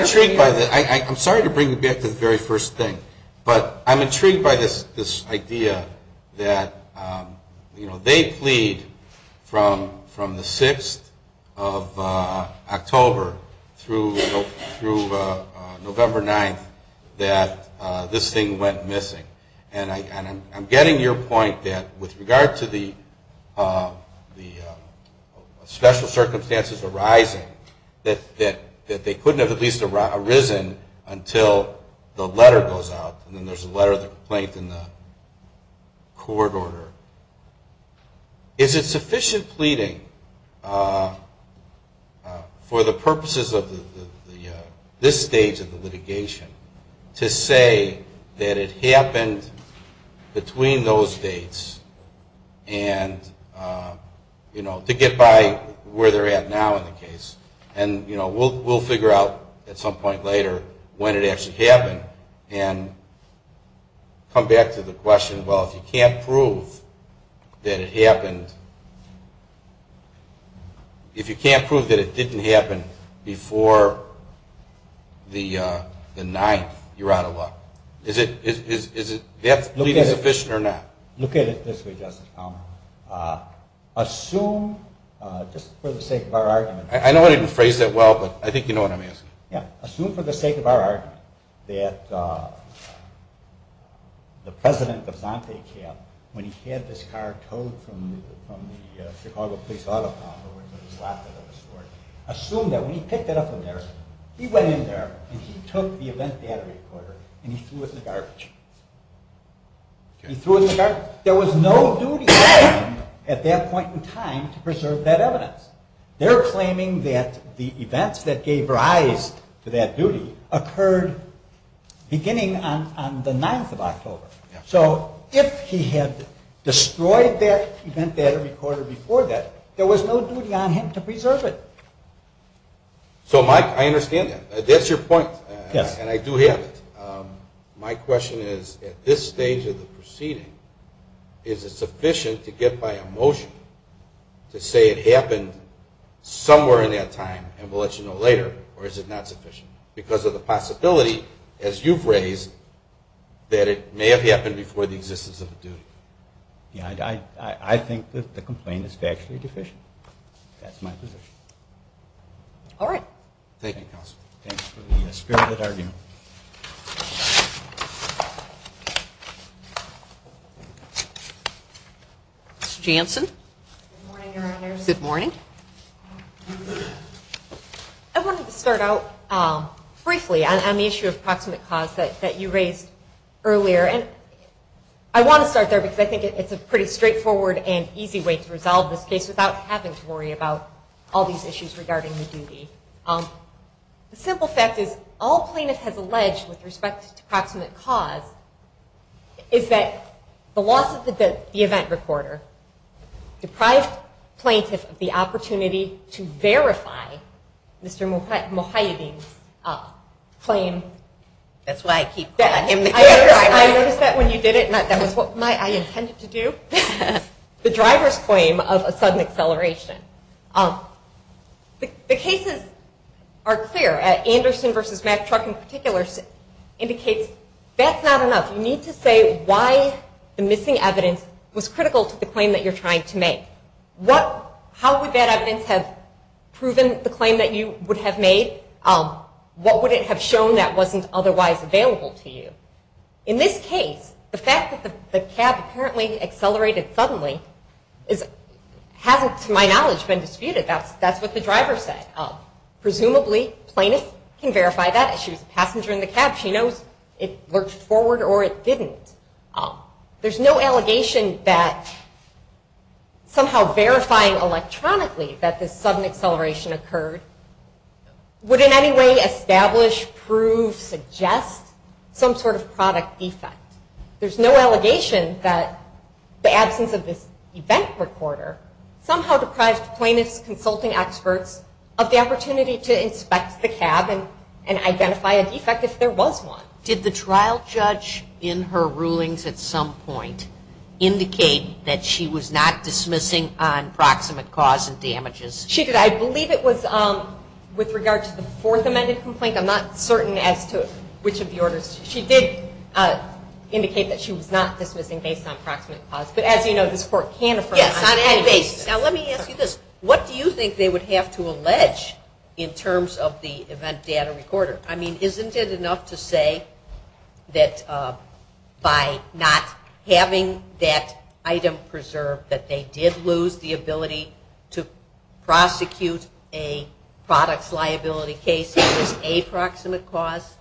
intrigued by this. I'm sorry to bring you back to the very first thing. But I'm intrigued by this idea that they plead from the 6th of October through November 9th that this thing went missing. And I'm getting your point that with regard to the special circumstances arising, that they couldn't have at least arisen until the letter goes out and then there's a letter of complaint in the court order. Is it sufficient pleading for the purposes of this stage of the litigation to say that it happened between those dates and to get by where they're at now in the case? And we'll figure out at some point later when it actually happened and come back to the question, well, if you can't prove that it didn't happen before the 9th, you're out of luck. Is that pleading sufficient or not? Look at it this way, Justice Palmer. Assume, just for the sake of our argument— I know I didn't phrase that well, but I think you know what I'm asking. Yeah, assume for the sake of our argument that the president of Dante Cab, when he had this car towed from the Chicago Police Auto Company, assume that when he picked it up from there, he went in there and he took the event data recorder and he threw it in the garbage. He threw it in the garbage. There was no duty on him at that point in time to preserve that evidence. They're claiming that the events that gave rise to that duty occurred beginning on the 9th of October. So if he had destroyed that event data recorder before that, there was no duty on him to preserve it. So, Mike, I understand that. That's your point, and I do have it. My question is, at this stage of the proceeding, is it sufficient to get by a motion to say it happened somewhere in that time, and we'll let you know later, or is it not sufficient? Because of the possibility, as you've raised, that it may have happened before the existence of the duty. Yeah, I think that the complaint is factually deficient. That's my position. All right. Thank you, Counselor. Thanks for the spirit of the argument. Ms. Jansen? Good morning, Your Honor. Good morning. I wanted to start out briefly on the issue of proximate cause that you raised earlier, and I want to start there because I think it's a pretty straightforward and easy way to resolve this case without having to worry about all these issues regarding the duty. The simple fact is all plaintiffs have alleged with respect to proximate cause is that the loss of the event recorder deprived plaintiffs of the opportunity to verify Mr. Muhayyadin's claim. That's why I keep calling him Mr. Muhayyadin. I noticed that when you did it, and that was what I intended to do. The driver's claim of a sudden acceleration. The cases are clear. Anderson v. Mack Truck in particular indicates that's not enough. You need to say why the missing evidence was critical to the claim that you're trying to make. How would that evidence have proven the claim that you would have made? What would it have shown that wasn't otherwise available to you? In this case, the fact that the cab apparently accelerated suddenly hasn't, to my knowledge, been disputed. That's what the driver said. Presumably plaintiffs can verify that. She was a passenger in the cab. She knows it worked forward or it didn't. There's no allegation that somehow verifying electronically that this sudden acceleration occurred would in any way establish, prove, suggest some sort of product defect. There's no allegation that the absence of this event recorder somehow deprived plaintiffs and consulting experts of the opportunity to inspect the cab and identify a defect if there was one. Did the trial judge in her rulings at some point indicate that she was not dismissing on proximate cause and damages? She did. I believe it was with regard to the fourth amended complaint. I'm not certain as to which of the orders. She did indicate that she was not dismissing based on proximate cause. But as you know, the court can affirm. Now let me ask you this. What do you think they would have to allege in terms of the event data recorder? I mean, isn't it enough to say that by not having that item preserved that they did lose the ability to prosecute a product liability case with a proximate cause?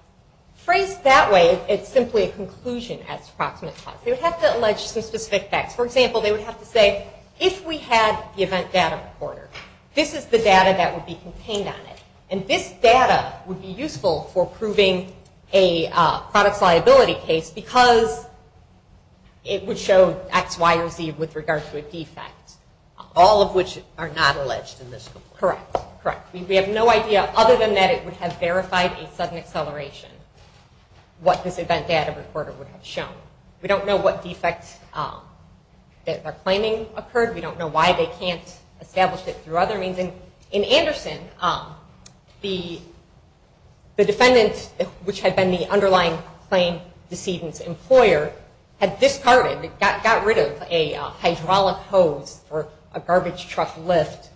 Framed that way is simply a conclusion as proximate cause. They would have to allege specific facts. For example, they would have to say, if we had the event data recorder, this is the data that would be contained on it. And this data would be useful for proving a product liability case because it would show X, Y, or Z with regard to a defect, all of which are not alleged in this case. Correct. We have no idea other than that it would have verified a sudden acceleration what this event data recorder would have shown. We don't know what defects that are claiming occurred. We don't know why they can't establish it through other means. And in Anderson, the defendant, which had been the underlying claim decedent's employer, had discarded, got rid of a hydraulic hose or a garbage truck lift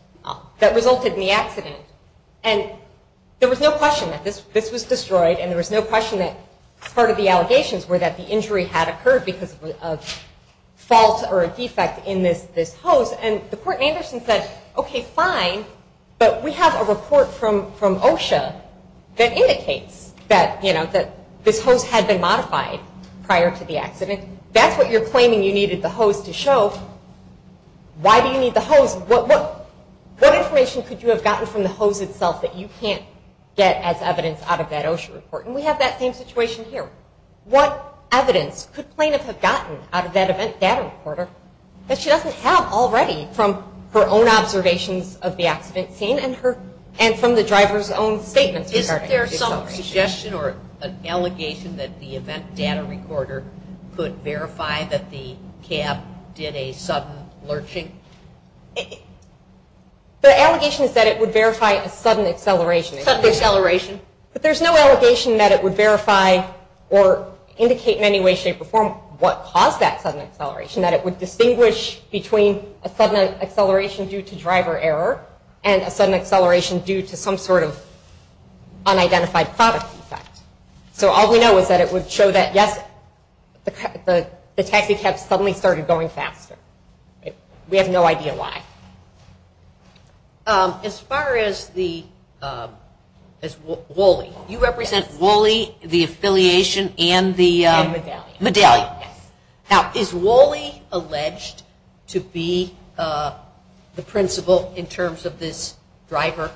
that resulted in the accident. And there was no question that this was destroyed, and there was no question that part of the allegations were that the injury had occurred because of a fault or a defect in this hose. And the poor Anderson said, okay, fine, but we have a report from OSHA that indicates that this hose had been modified prior to the accident. That's what you're claiming you needed the hose to show. Why do you need the hose? What information could you have gotten from the hose itself that you can't get as evidence out of that OSHA report? And we have that same situation here. What evidence could plaintiffs have gotten out of that event data recorder that she doesn't have already from her own observations of the accident scene and from the driver's own statements? Is there some suggestion or an allegation that the event data recorder could verify that the cab did a sudden lurching? The allegation is that it would verify a sudden acceleration. Sudden acceleration. But there's no allegation that it would verify or indicate in any way, shape, or form a sudden acceleration. That it would distinguish between a sudden acceleration due to driver error and a sudden acceleration due to some sort of unidentified product defect. So all we know is that it would show that, yes, the taxi cab suddenly started going faster. We have no idea why. As far as WOLI, you represent WOLI, the affiliation, and the medallion. Now is WOLI alleged to be the principal in terms of this driver?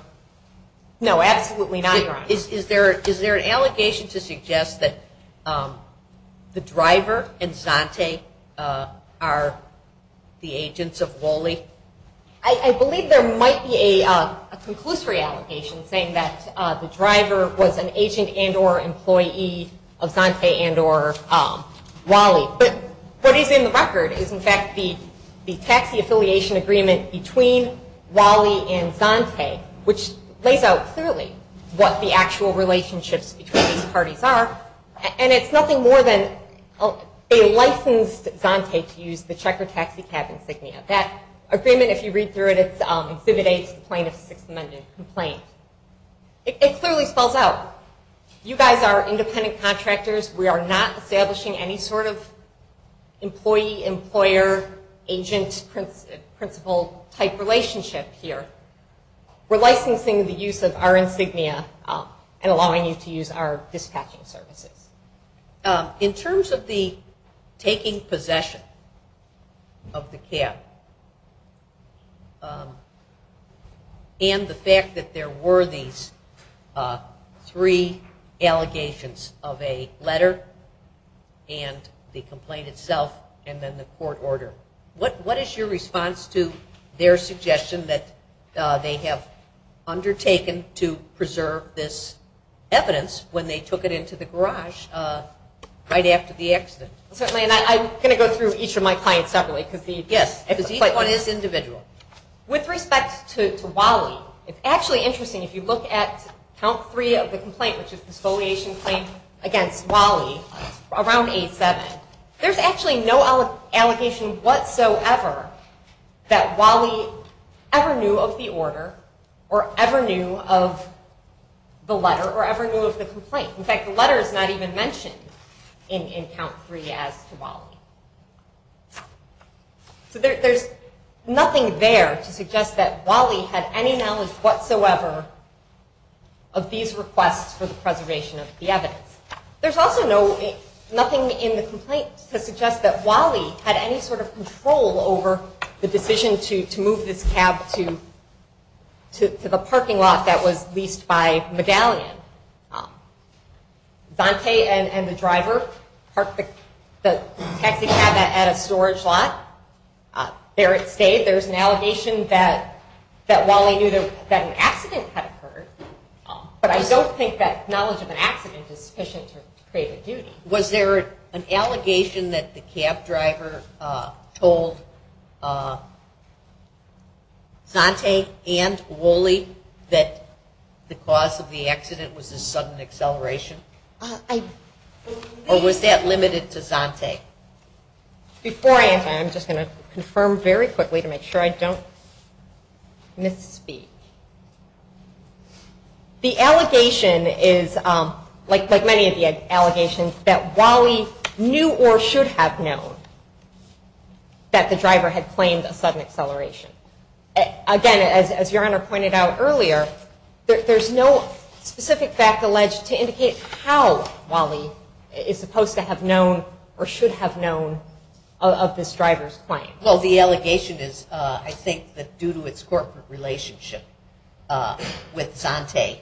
No, absolutely not. Is there an allegation to suggest that the driver and Zante are the agents of WOLI? I believe there might be a conclusory allegation saying that the driver was an agent and or employee of Zante and or WOLI. But what is in the record is in fact the taxi affiliation agreement between WOLI and Zante, which lays out clearly what the actual relationships between these parties are. And it's nothing more than a licensed Zante to use the checker taxi cab insignia. That agreement, if you read through it, is the exhibit A complainant's recommended complaint. It clearly falls out. You guys are independent contractors. We are not establishing any sort of employee, employer, agent, principal type relationship here. We're licensing the use of our insignia and allowing you to use our dispatching services. In terms of the taking possession of the cab and the fact that there were these three allegations of a letter and the complaint itself and then the court order, what is your response to their suggestion that they have undertaken to preserve this evidence when they took it into the garage right after the accident? Certainly, and I'm going to go through each of my clients separately. Yes. Because each one is individual. With respect to WOLI, it's actually interesting. If you look at count three of the complaint, which is the soliation complaint against WOLI around 8-7, there's actually no allegation whatsoever that WOLI ever knew of the order or ever knew of the letter or ever knew of the complaint. In fact, the letter is not even mentioned in count three as to WOLI. So there's nothing there to suggest that WOLI had any knowledge whatsoever of these requests for the preservation of the evidence. There's also nothing in the complaint to suggest that WOLI had any sort of control over the decision to move this cab to the parking lot that was leased by Medallion. Dante and the driver parked the cab at a storage lot. They say there's an allegation that WOLI knew that an accident had occurred, but I don't think that knowledge of an accident is sufficient to create a use. Was there an allegation that the cab driver told Dante and WOLI that the cause of the accident was a sudden acceleration? Or was that limited to Dante? Before I answer, I'm just going to confirm very quickly to make sure I don't misspeak. The allegation is, like many of the allegations, that WOLI knew or should have known that the driver had claimed a sudden acceleration. Again, as your Honor pointed out earlier, there's no specific fact alleged to indicate how WOLI is supposed to have known or should have known of this driver's claim. Well, the allegation is, I think, that due to its corporate relationship with Dante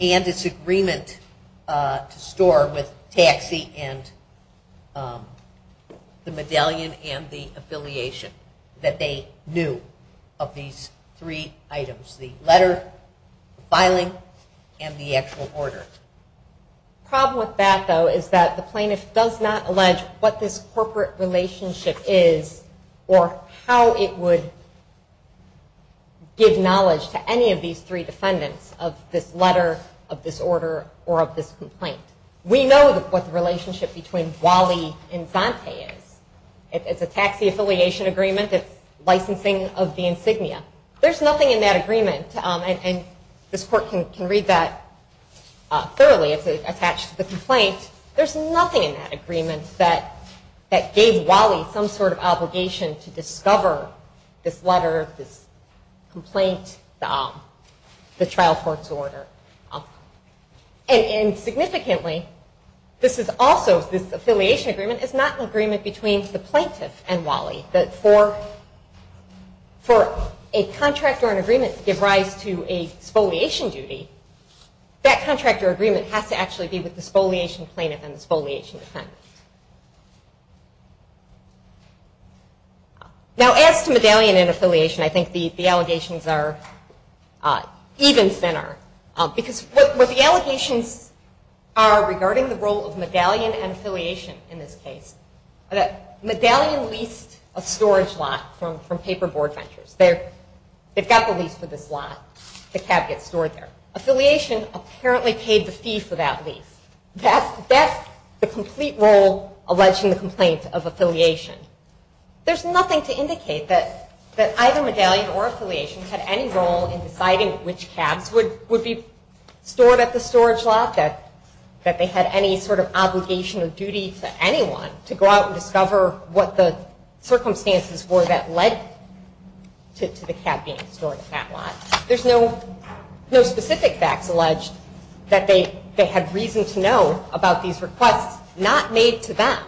and its agreement to store with taxi and the Medallion and the affiliation, that they knew of these three items, the letter, the filing, and the actual order. The problem with that, though, is that the plaintiff does not allege what this corporate relationship is or how it would give knowledge to any of these three defendants of this letter, of this order, or of this complaint. We know what the relationship between WOLI and Dante is. It's a taxi affiliation agreement. It's licensing of the insignia. There's nothing in that agreement. And this court can read that thoroughly if it attaches to the complaint. There's nothing in that agreement that gave WOLI some sort of obligation to discover this letter, this complaint, the trial court's order. And significantly, this is also this affiliation agreement. It's not an agreement between the plaintiff and WOLI. But for a contract or an agreement to give rise to a spoliation duty, that contract or agreement has to actually be with the spoliation plaintiff and the spoliation defendant. Now, as to Medallion and affiliation, I think the allegations are even thinner. Because what the allegations are regarding the role of Medallion and affiliation in this case, Medallion leased a storage lot from Paperboard Ventures. They've got the lease for this lot. The cab gets stored there. Affiliation apparently paid the fee for that lease. That's the complete role alleging the complaint of affiliation. There's nothing to indicate that either Medallion or affiliation had any role in deciding which cabs would be stored at the storage lot, that they had any sort of obligation or duty to anyone to go out and discover what the circumstances were that led to the cab being stored at that lot. There's no specific fact alleged that they had reason to know about these requests. Not made to them.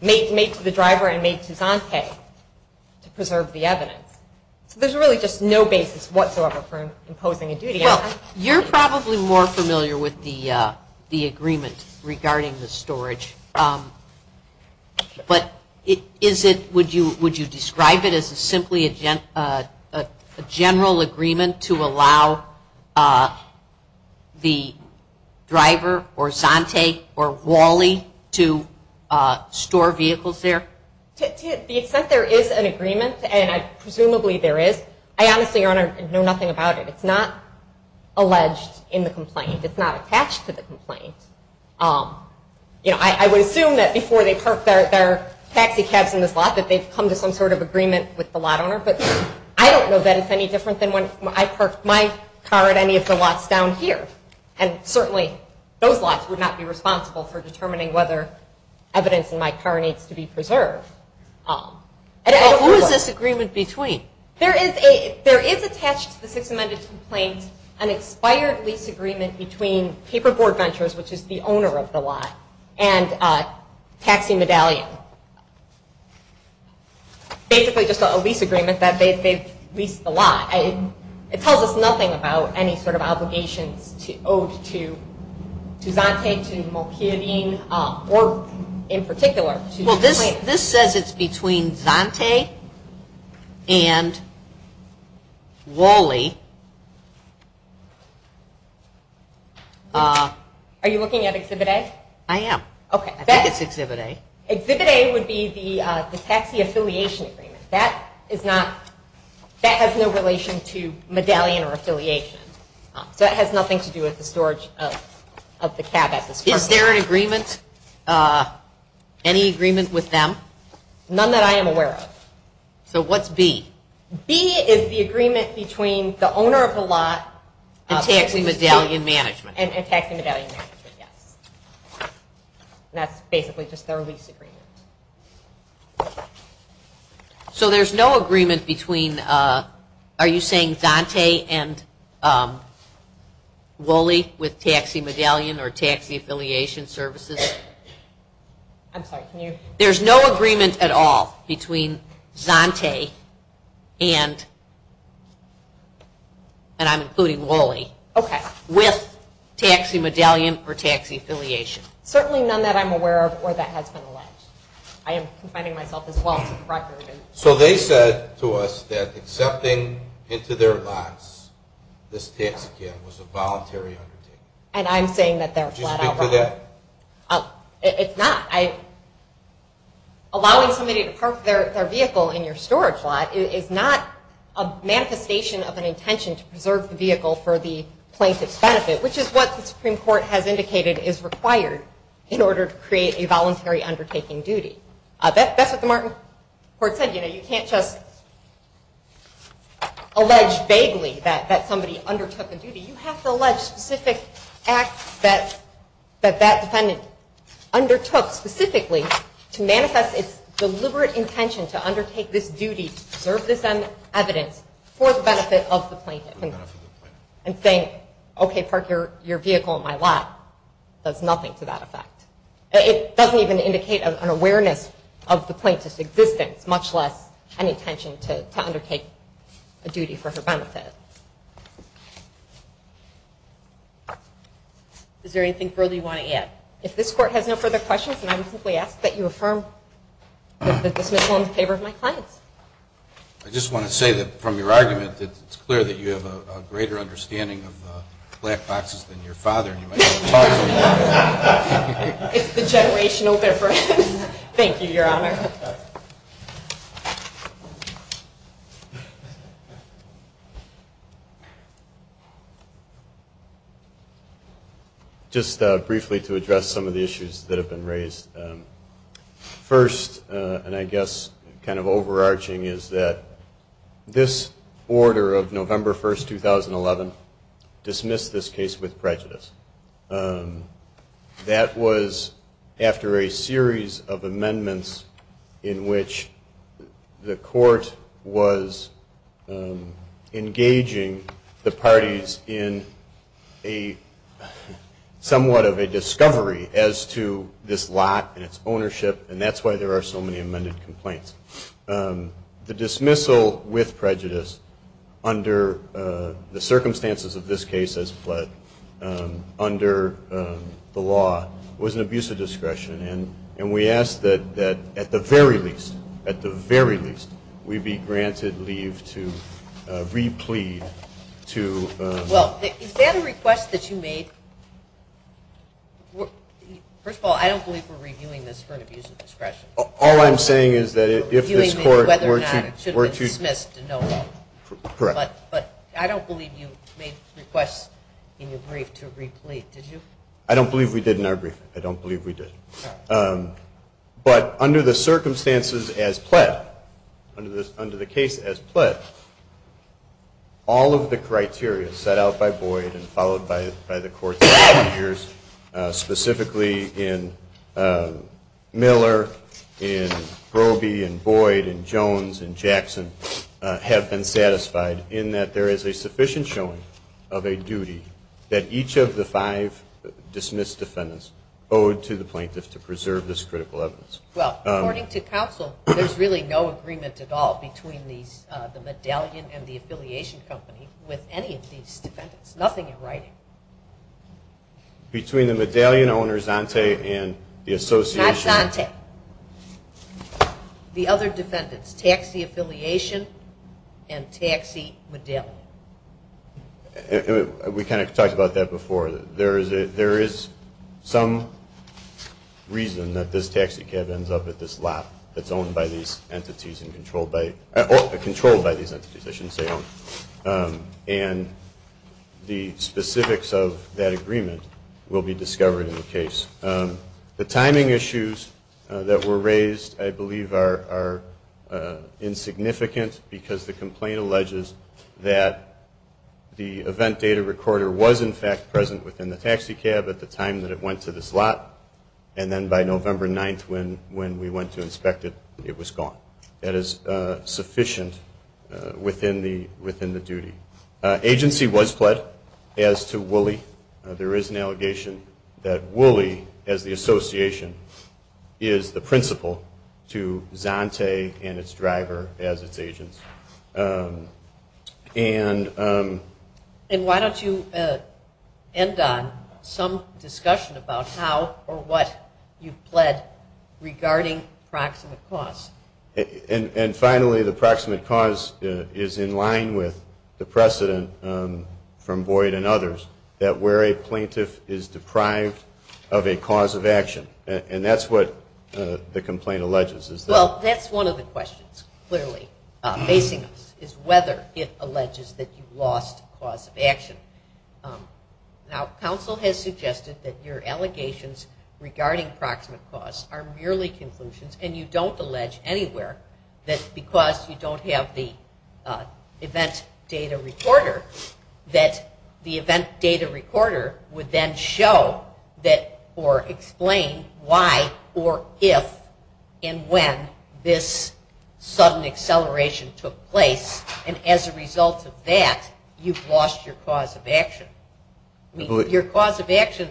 Made to the driver and made to Dante to preserve the evidence. There's really just no basis whatsoever for imposing a duty on them. You're probably more familiar with the agreement regarding the storage. But would you describe it as simply a general agreement to allow the driver or Dante or Wally to store vehicles there? Because there is an agreement, and presumably there is. I honestly don't know nothing about it. It's not alleged in the complaint. It's not attached to the complaint. You know, I would assume that before they parked their taxi cabs in this lot that they've come to some sort of agreement with the lot owner. But I don't know that it's any different than when I parked my car at any of the lots down here. And certainly those lots would not be responsible for determining whether evidence in my car needs to be preserved. And who is this agreement between? There is attached to the Sixth Amendment complaint an expired lease agreement between Paperboard Ventures, which is the owner of the lot, and Taxi Medallion. Basically, this is a lease agreement that they've leased the lot. It tells us nothing about any sort of obligation owed to Dante, to Mokume Dean, or in particular. Well, this says it's between Dante and Woley. Are you looking at Exhibit A? I am. Okay. I think it's Exhibit A. Exhibit A would be the Taxi Affiliation Agreement. That has no relation to medallion or affiliation. That has nothing to do with the storage of the cab at the store. Is there an agreement? Any agreement with them? None that I am aware of. So what's B? B is the agreement between the owner of the lot and Taxi Medallion Management. And Taxi Medallion Management, yes. That's basically just their lease agreement. So there's no agreement between, are you saying Dante and Woley with Taxi Medallion or Taxi Affiliation Services? I'm sorry, can you? There's no agreement at all between Dante and, and I'm including Woley. Okay. With Taxi Medallion or Taxi Affiliation. Certainly none that I'm aware of or that has been alleged. I am confiding myself as well. So they said to us that accepting into their box this tax account was a voluntary undertaking. And I'm saying that they're flat out wrong. It's not. Allowing somebody to park their vehicle in your storage lot is not a manifestation of an intention to preserve the vehicle for the plaintiff's benefit, which is what the Supreme Court has indicated is required in order to create a voluntary undertaking duty. That's what the Martin Court said. You know, you can't just allege vaguely that somebody undertook a duty. You have to allege specific acts that that defendant undertook specifically to manifest its deliberate intention to undertake this duty, to preserve this evidence for the benefit of the plaintiff. And saying, okay, park your vehicle in my lot, does nothing to that effect. It doesn't even indicate an awareness of the plaintiff's existence, much less an intention to undertake a duty for her own benefit. Is there anything further you want to add? If this Court has no further questions, can I just ask that you affirm that this is all in favor of my client? I just want to say that from your argument, it's clear that you have a greater understanding of black boxes than your father. It's the generational difference. Thank you, Your Honor. Just briefly to address some of the issues that have been raised. First, and I guess kind of overarching, is that this order of November 1, 2011 dismissed this case with prejudice. That was after a series of amendments in which the Court was engaging the parties in somewhat of a discovery as to this lot and its ownership, and that's why there are so many amended complaints. The dismissal with prejudice under the circumstances of this case as fled under the law was an abuse of discretion, and we ask that at the very least, at the very least, we be granted leave to re-plead to... Well, is that a request that you make... First of all, I don't believe we're reviewing this for an abuse of discretion. All I'm saying is that if this Court were to... But I don't believe you made the request in your brief to re-plead, did you? I don't believe we did in our brief. I don't believe we did. But under the circumstances as pledged, under the case as pledged, all of the criteria set out by Boyd and followed by the Court's procedures, specifically in Miller, in Groby, in Boyd, in Jones, in Jackson, have been satisfied in that there is a sufficient showing of a duty that each of the five dismissed defendants owe to the plaintiffs to preserve this critical evidence. Well, according to counsel, there's really no agreement at all between the medallion and the affiliation company with any of these defendants. Nothing in writing. Between the medallion owner, Zante, and the association... Not Zante. The other defendants, taxi affiliation and taxi medallion. We kind of talked about that before. There is some reason that this taxi cab ends up at this lot that's owned by these entities and controlled by these entities, I should say. And the specifics of that agreement will be discovered in the case. The timing issues that were raised, I believe, are insignificant because the complaint alleges that the event data recorder was in fact present within the taxi cab at the time that it went to this lot, and then by November 9th, when we went to inspect it, it was gone. So it's not as sufficient within the duty. Agency was pled as to Woolley. There is an allegation that Woolley, as the association, is the principal to Zante and its driver as its agents. And why don't you end on some discussion about how or what you pled regarding proximate cause. And finally, the proximate cause is in line with the precedent from Boyd and others that where a plaintiff is deprived of a cause of action. And that's what the complaint alleges. Well, that's one of the questions, clearly, is whether it alleges that you've lost the cause of action. Now, counsel has suggested that your allegations regarding proximate cause are merely conclusions, and you don't allege anywhere that because you don't have the event data recorder that the event data recorder would then show or explain why or if and when this sudden acceleration took place. And as a result of that, you've lost your cause of action. Your cause of action,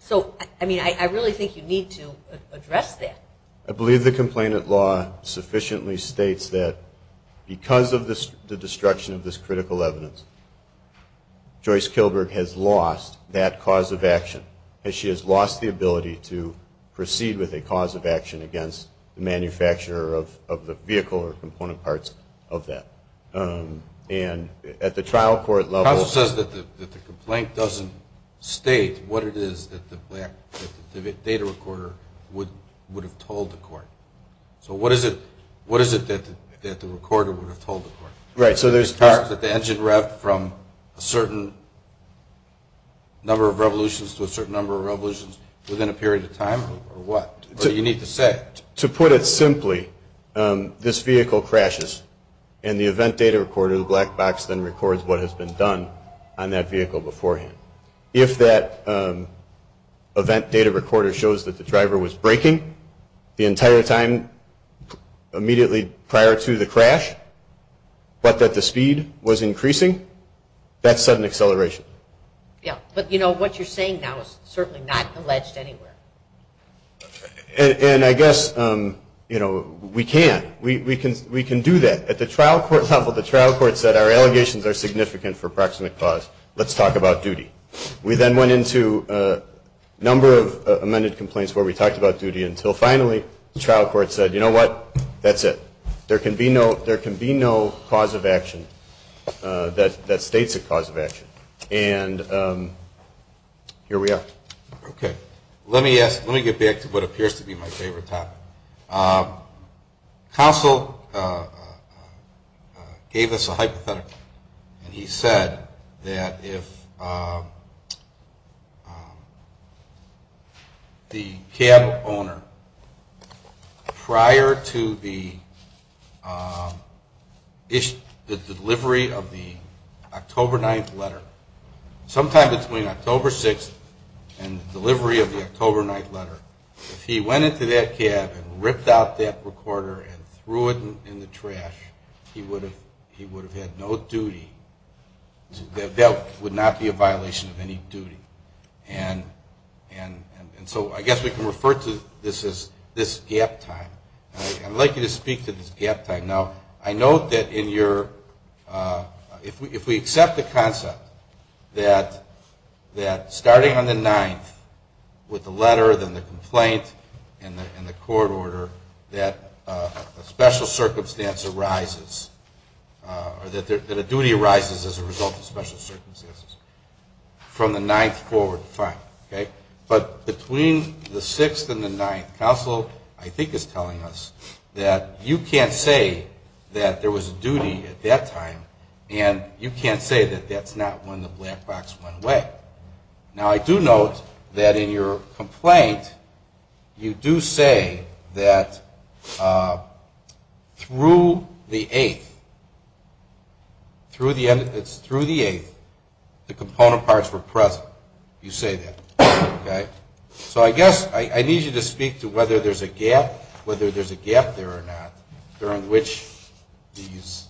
so, I mean, I really think you need to address that. I believe the complainant law sufficiently states that because of the destruction of this critical evidence, Joyce Kilburn has lost that cause of action. She has lost the ability to proceed with a cause of action against the manufacturer of the vehicle or component parts of that. And at the trial court level... The trial says that the complaint doesn't state what it is that the event data recorder would have told the court. So what is it that the recorder would have told the court? Right, so there's... That the engine wrapped from a certain number of revolutions to a certain number of revolutions within a period of time, or what? To put it simply, this vehicle crashes, and the event data recorder, the black box, then records what has been done on that vehicle beforehand. If that event data recorder shows that the driver was braking the entire time immediately prior to the crash, but that the speed was increasing, that's sudden acceleration. But what you're saying now is certainly not alleged anywhere. And I guess we can. We can do that. At the trial court level, the trial court said, our allegations are significant for proximate cause. Let's talk about duty. We then went into a number of amended complaints where we talked about duty, until finally the trial court said, you know what, that's it. There can be no cause of action that states a cause of action. And here we are. Okay. Let me get back to what appears to be my favorite topic. Counsel gave us a hypothetical. He said that if the cab owner, prior to the delivery of the October 9th letter, sometime between October 6th and delivery of the October 9th letter, if he went into that cab and ripped out that recorder and threw it in the trash, he would have had no duty. That would not be a violation of any duty. And so I guess we can refer to this as this gap time. I'd like you to speak to this gap time. Now, I know that if we accept the concept that starting on the 9th with the letter, and the court order, that a special circumstance arises, that a duty arises as a result of special circumstances. From the 9th forward, fine. Okay. But between the 6th and the 9th, counsel I think is telling us that you can't say that there was a duty at that time, and you can't say that that's not when the black box went away. Now, I do note that in your complaint, you do say that through the 8th, it's through the 8th, the component parts were present. You say that. So I guess I need you to speak to whether there's a gap there or not, during which these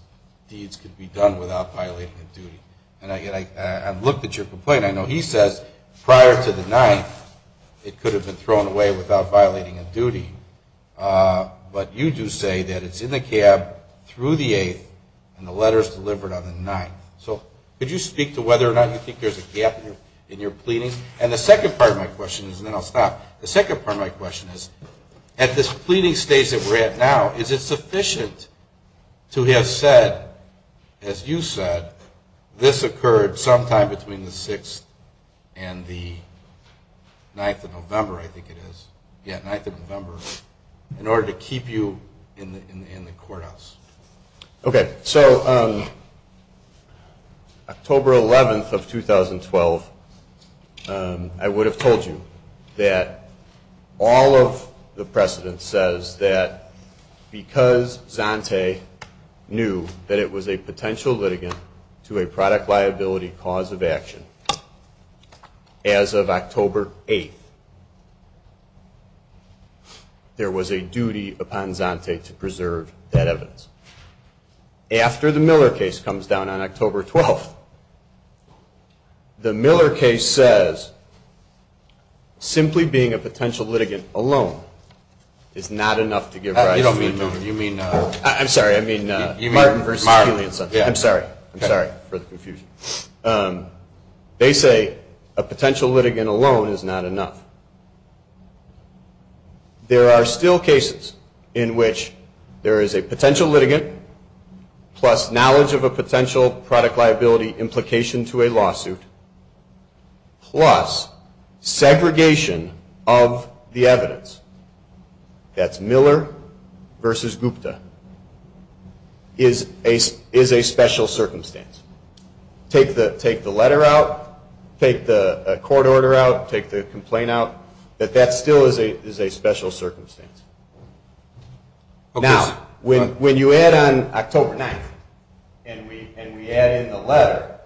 deeds could be done without violation of duty. I looked at your complaint. I know he said prior to the 9th, it could have been thrown away without violating of duty. But you do say that it's in the cab through the 8th, and the letter's delivered on the 9th. So could you speak to whether or not you think there's a gap in your pleading? And the second part of my question is, and then I'll stop. The second part of my question is, at this pleading stage that we're at now, is it sufficient to have said, as you said, this occurred sometime between the 6th and the 9th of November, I think it is. Yeah, 9th of November, in order to keep you in the courthouse. Okay. Okay. So October 11th of 2012, I would have told you that all of the precedent says that because Zante knew that it was a potential litigant to a product liability cause of action, as of October 8th, there was a duty upon Zante to preserve that evidence. After the Miller case comes down on October 12th, the Miller case says, simply being a potential litigant alone is not enough to give rise to a new duty. I'm sorry. I mean, I'm sorry for the confusion. They say a potential litigant alone is not enough. There are still cases in which there is a potential litigant plus knowledge of a potential product liability implication to a lawsuit, plus segregation of the evidence. That's Miller versus Gupta is a special circumstance. Take the letter out. Take the court order out. Take the complaint out. But that still is a special circumstance. Now, when you add on October 9th and we add in the letter,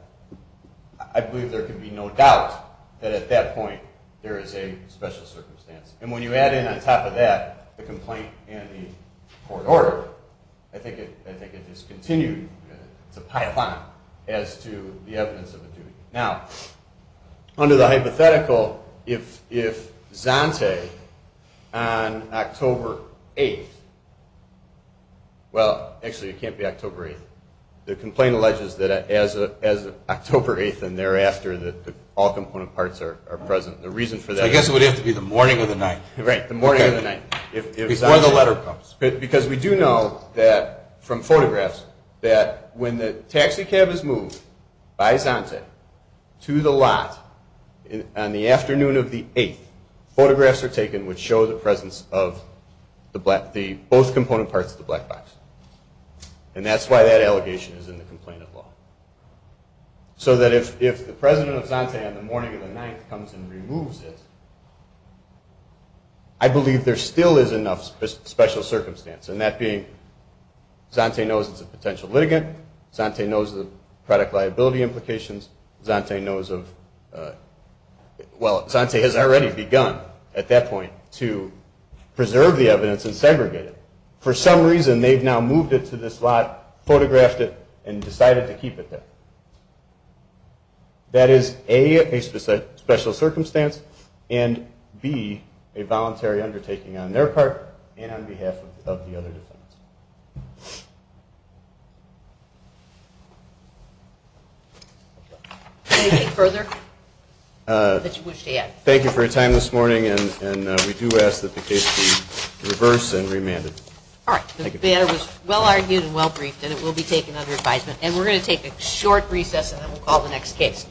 I believe there can be no doubt that at that point there is a special circumstance. And when you add in on top of that the complaint and the court order, I think it just continues the pipeline as to the evidence of a duty. Now, under the hypothetical, if Zante on October 8th, well, actually it can't be October 8th. The complaint alleges that as of October 8th and thereafter, all component parts are present. The reason for that is the morning of the night. Right, the morning of the night. Before the letter comes. Because we do know from photographs that when the taxi cab is moved by Zante to the lot on the afternoon of the 8th, photographs are taken which show the presence of both component parts of the black box. And that's why that allegation is in the complaint as well. So that if the president of Zante on the morning of the night comes and removes it, I believe there still is enough special circumstance. And that being Zante knows it's a potential litigant. Zante knows the product liability implications. Zante knows of, well, Zante has already begun at that point to preserve the evidence and segregate it. For some reason they've now moved it to this lot, photographed it, and decided to keep it there. That is A, a special circumstance, and B, a voluntary undertaking on their part and on behalf of the other department. Anything further that you wish to add? Thank you for your time this morning, and we do ask that the case be reversed and remanded. All right. Well argued and well briefed, and it will be taken under advisement. And we're going to take a short recess, and then we'll call the next case.